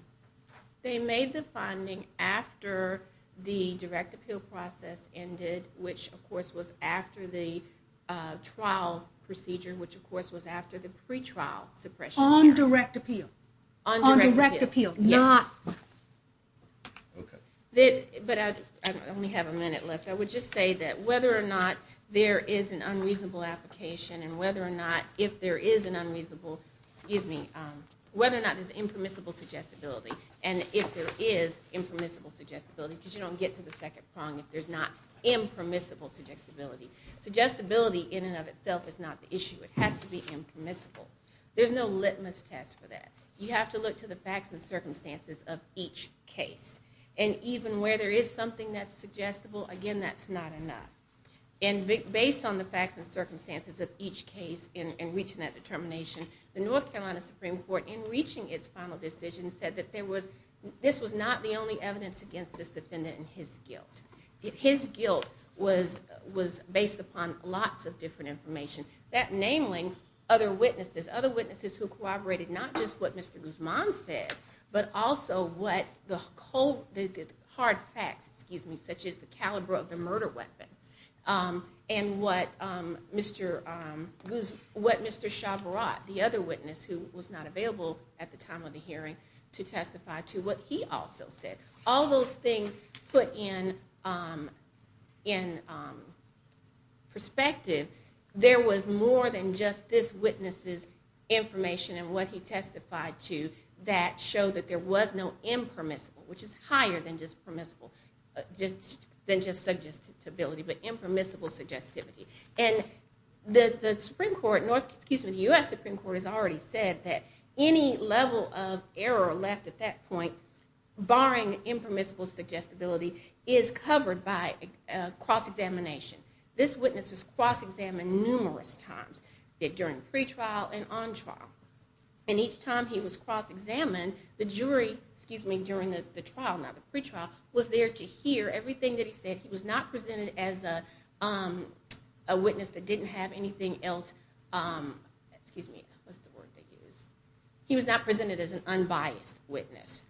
They made the finding after the direct appeal process ended, which, of course, was after the trial procedure, which, of course, was after the pretrial suppression hearing. On direct appeal. On direct appeal. On direct appeal, not... Okay. But I only have a minute left. I would just say that whether or not there is an unreasonable application and whether or not, if there is an unreasonable, excuse me, whether or not there's impermissible suggestibility and if there is impermissible suggestibility, because you don't get to the second prong if there's not impermissible suggestibility. Suggestibility in and of itself is not the issue. It has to be impermissible. There's no litmus test for that. You have to look to the facts and circumstances of each case. And even where there is something that's suggestible, again, that's not enough. And based on the facts and circumstances of each case in reaching that determination, the North Carolina Supreme Court, in reaching its final decision, said that this was not the only evidence against this defendant and his guilt. His guilt was based upon lots of different information, namely other witnesses, other witnesses who corroborated not just what Mr. Guzman said, but also what the hard facts, excuse me, such as the caliber of the murder weapon and what Mr. Chavarrot, the other witness, who was not available at the time of the hearing, to testify to what he also said. All those things put in perspective. There was more than just this witness's information and what he testified to that showed that there was no impermissible, which is higher than just permissible, than just suggestibility, but impermissible suggestibility. And the Supreme Court, excuse me, the U.S. Supreme Court has already said that any level of error left at that point, barring impermissible suggestibility, is covered by cross-examination. This witness was cross-examined numerous times, during the pretrial and on trial. And each time he was cross-examined, the jury, excuse me, during the trial, not the pretrial, was there to hear everything that he said. He was not presented as a witness that didn't have anything else, excuse me, what's the word they use? He was not presented as an unbiased witness.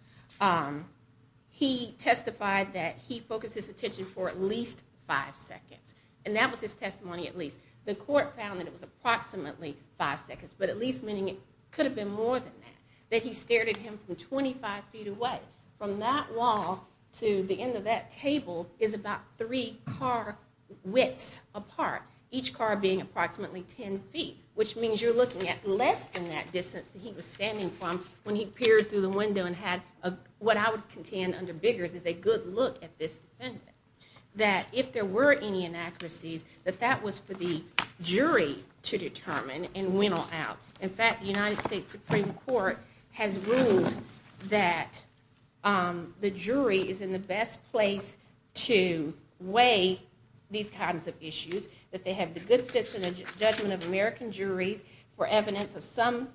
He testified that he focused his attention for at least five seconds. And that was his testimony at least. The court found that it was approximately five seconds, but at least meaning it could have been more than that. That he stared at him from 25 feet away. From that wall to the end of that table is about three car widths apart, each car being approximately 10 feet, which means you're looking at less than that distance that he was standing from when he peered through the window and had what I would contend under bigger is a good look at this defendant. That if there were any inaccuracies, that that was for the jury to determine and whittle out. In fact, the United States Supreme Court has ruled that the jury is in the best place to weigh these kinds of issues, that they have the good judgment of American juries for evidence of some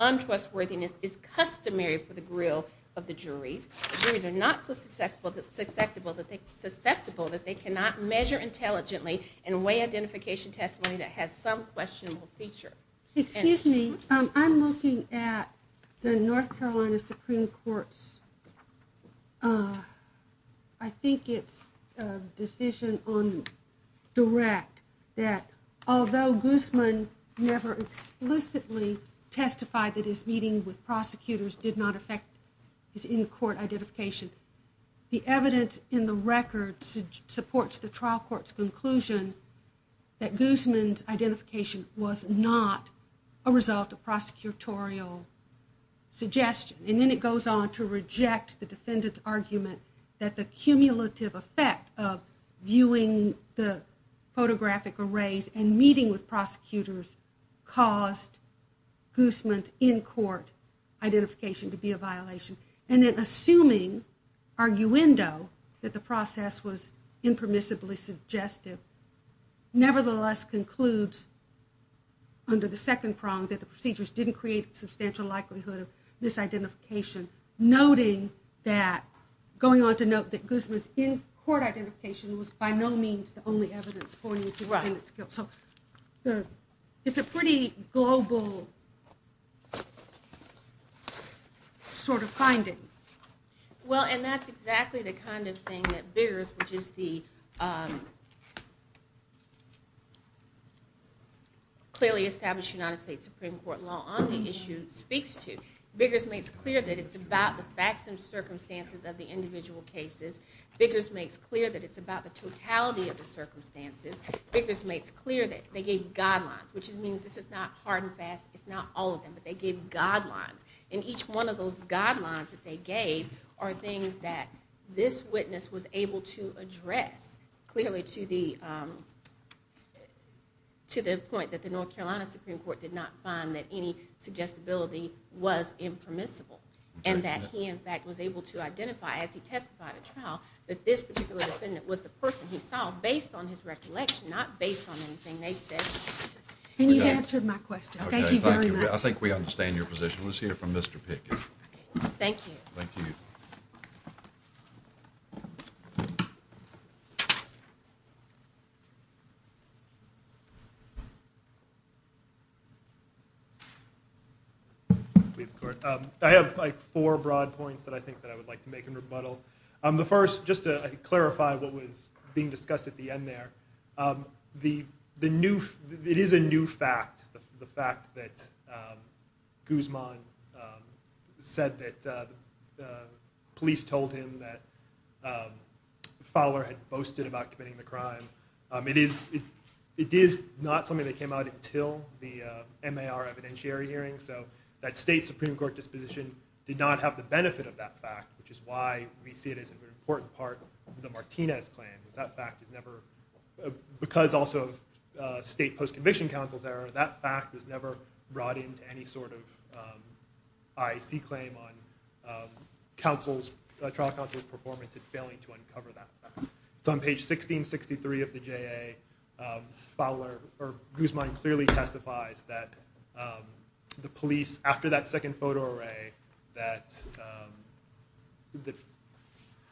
untrustworthiness is customary for the grill of the juries. The juries are not so susceptible that they cannot measure intelligently and weigh identification testimony that has some questionable feature. Excuse me, I'm looking at the North Carolina Supreme Court's, I think it's a decision on direct, that his meeting with prosecutors did not affect his in-court identification. The evidence in the record supports the trial court's conclusion that Guzman's identification was not a result of prosecutorial suggestion. And then it goes on to reject the defendant's argument that the cumulative effect of viewing the photographic arrays and meeting with prosecutors caused Guzman's in-court identification to be a violation. And then assuming, arguendo, that the process was impermissibly suggested, nevertheless concludes under the second prong that the procedures didn't create a substantial likelihood of misidentification, noting that, going on to note that Guzman's in-court identification was by no means the only evidence pointing to the defendant's guilt. It's a pretty global sort of finding. Well, and that's exactly the kind of thing that Biggers, which is the clearly established United States Supreme Court law on the issue, speaks to. Biggers makes clear that it's about the facts and circumstances of the individual cases. Biggers makes clear that it's about the totality of the circumstances. Biggers makes clear that they gave guidelines, which means this is not hard and fast. It's not all of them, but they gave guidelines. And each one of those guidelines that they gave are things that this witness was able to address clearly to the point that the North Carolina Supreme Court did not find that any suggestibility was impermissible and that he, in fact, was able to identify, as he testified as well, that this particular defendant was the person he saw based on his recollection, not based on anything they said. Can you answer my question? Thank you very much. I think we understand your position. Let's hear from Mr. Biggers. Thank you. Thank you. I have like four broad points that I think that I would like to make in rebuttal. The first, just to clarify, what was being discussed at the end there, it is a new fact, the fact that Guzman said that police told him that Fowler had boasted about committing the crime. It is not something that came out until the MAR evidentiary hearing, so that state Supreme Court disposition did not have the benefit of that fact, which is why we see it as an important part of the Martinez plan. That fact is never, because also of state post-conviction counsel's error, that fact is never brought into any sort of I.T. claim on trial counsel's performance in failing to uncover that fact. So on page 1663 of the J.A., Fowler, or Guzman, clearly testified that the police, after that second photo array, that the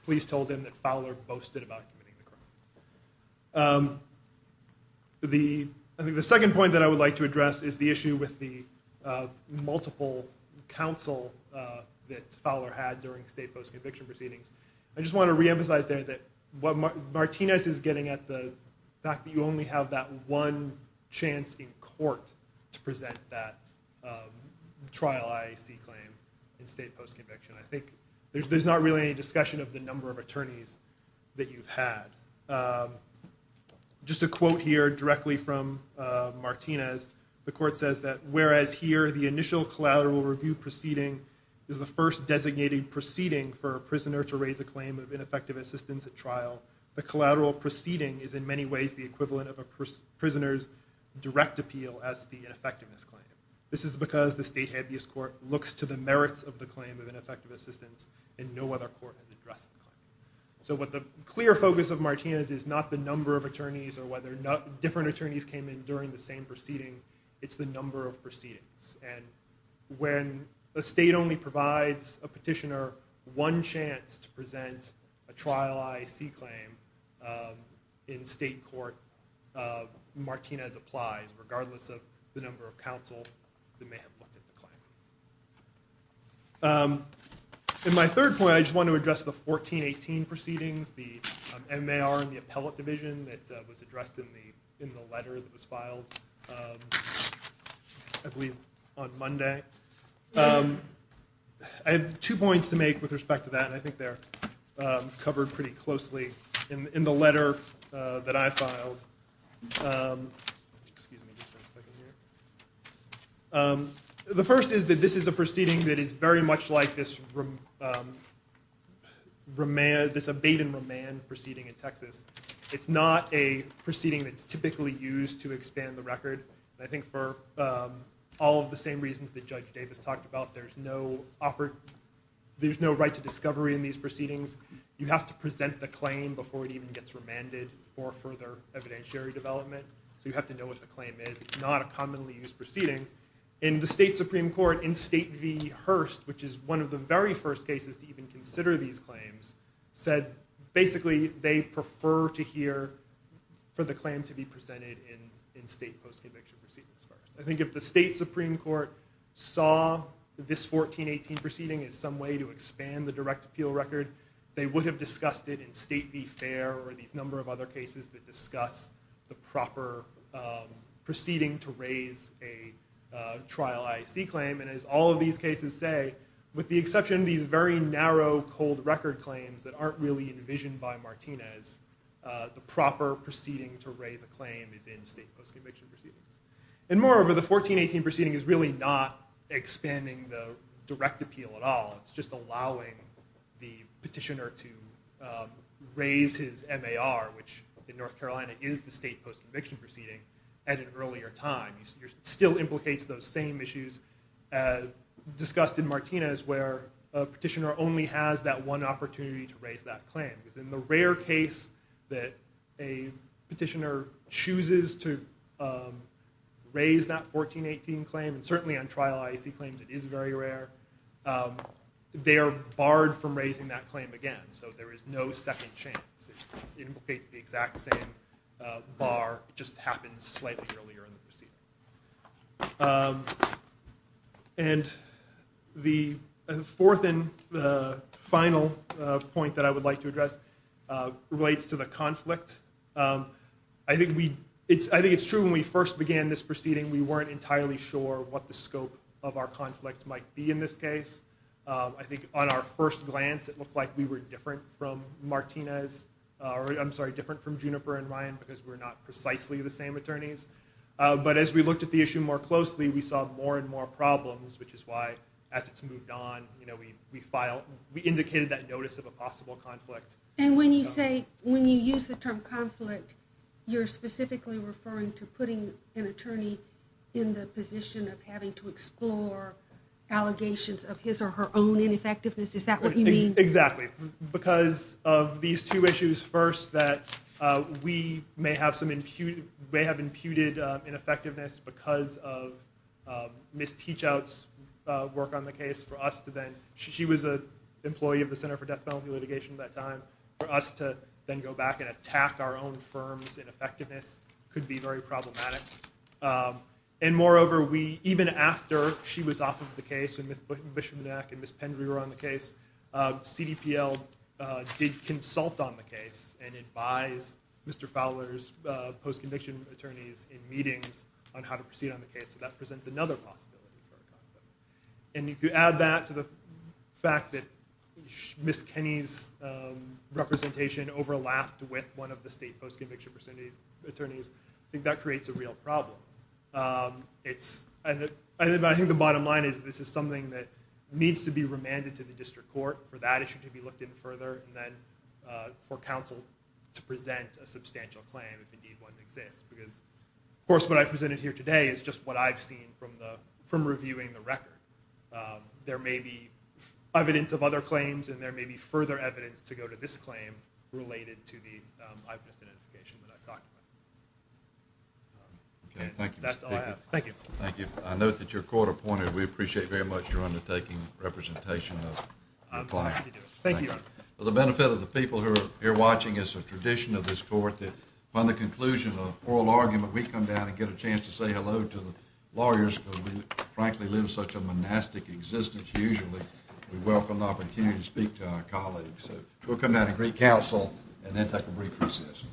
police told him that Fowler boasted about committing the crime. I think the second point that I would like to address is the issue with the multiple counsel that Fowler had during state post-conviction proceedings. I just want to reemphasize there that what Martinez is getting at, the fact that you only have that one chance in court to present that trial I.T. claim in state post-conviction. I think there's not really any discussion of the number of attorneys that you've had. Just a quote here directly from Martinez. The court says that, whereas here the initial collateral review proceeding is the first designated proceeding for a prisoner to raise a claim of ineffective assistance at trial, the collateral proceeding is in many ways the equivalent of a prisoner's direct appeal as the effectiveness claim. This is because the state habeas court looks to the merits of the claim of ineffective assistance and no other court has addressed it. So what the clear focus of Martinez is not the number of attorneys or whether different attorneys came in during the same proceeding. It's the number of proceedings. When a state only provides a petitioner one chance to present a trial I.T. claim in state court, Martinez applies regardless of the number of counsel that may have looked at the claim. In my third point, I just want to address the 1418 proceedings, the MAR and the appellate division that was addressed in the letter that was filed I believe on Monday. I have two points to make with respect to that. I think they're covered pretty closely in the letter that I filed. The first is that this is a proceeding that is very much like this abatement remand proceeding in Texas. It's not a proceeding that's typically used to expand the record. I think for all of the same reasons that Judge Davis talked about, there's no right to discovery in these proceedings. You have to present the claim before it even gets remanded for further evidentiary development. You have to know what the claim is. It's not a commonly used proceeding. In the state Supreme Court, in state v. Hearst, which is one of the very first cases to even consider these claims, said basically they prefer to hear for the claim to be presented in state post-conviction proceedings. I think if the state Supreme Court saw this 1418 proceeding as some way to expand the direct appeal record, they would have discussed it in state v. Fair or these number of other cases that discuss the proper proceeding to raise a trial IAC claim. As all of these cases say, with the exception of these very narrow cold record claims that aren't really envisioned by Martinez, the proper proceeding to raise a claim is in state post-conviction proceedings. Moreover, the 1418 proceeding is really not expanding the direct appeal at all. It's just allowing the petitioner to raise his MAR, which in North Carolina is the state post-conviction proceeding at an earlier time. It still implicates those same issues as discussed in Martinez where a petitioner only has that one opportunity to raise that claim. In the rare case that a petitioner chooses to raise that 1418 claim, and certainly on trial IAC claims it is very rare, they are barred from raising that claim again. So there is no second chance. It implicates the exact same MAR just happened slightly earlier in the proceeding. The fourth and final point that I would like to address relates to the conflict. I think it's true when we first began this proceeding we weren't entirely sure what the scope of our conflict might be in this case. I think on our first glance it looked like we were different from Martinez, I'm sorry, different from Juniper and Ryan because we're not precisely the same attorneys. But as we looked at the issue more closely we saw more and more problems which is why as it moved on we indicated that notice of a possible conflict. And when you say, when you use the term conflict you're specifically referring to putting an attorney in the position of having to explore allegations of his or her own ineffectiveness, is that what you mean? Exactly. Because of these two issues first that we may have imputed ineffectiveness because of Ms. Peachout's work on the case for us to then, she was an employee of the Center for Death Penalty Litigation at that time, for us to then go back and attack our own firm's ineffectiveness could be very problematic. And moreover, even after she was offered the case and Ms. Bishopmanac and Ms. Pendry were on the case, CDPL did consult on the case and advised Mr. Fowler's post-conviction attorneys in meetings on how to proceed on the case and that presents another possibility. And if you add that to the fact that Ms. Kenney's representation overlapped with one of the state post-conviction attorneys, I think that creates a real problem. I think the bottom line is this is something that needs to be remanded to the district court for that issue to be looked at further and then for counsel to present a substantial claim if indeed one exists. Of course, what I presented here today is just what I've seen from reviewing the record. There may be evidence of other claims and there may be further evidence to go to this claim related to these other definitions that I've talked about. That's all I have. Thank you. Thank you. I note that your court appointed. We appreciate very much your undertaking representation of the client. Thank you. For the benefit of the people who are here watching, it's a tradition of this court that upon the conclusion of an oral argument, we come down and get a chance to say hello to the lawyers because we frankly live such a monastic existence usually. We welcome the opportunity to speak to our colleagues. We'll come down and greet counsel and then take a brief recess.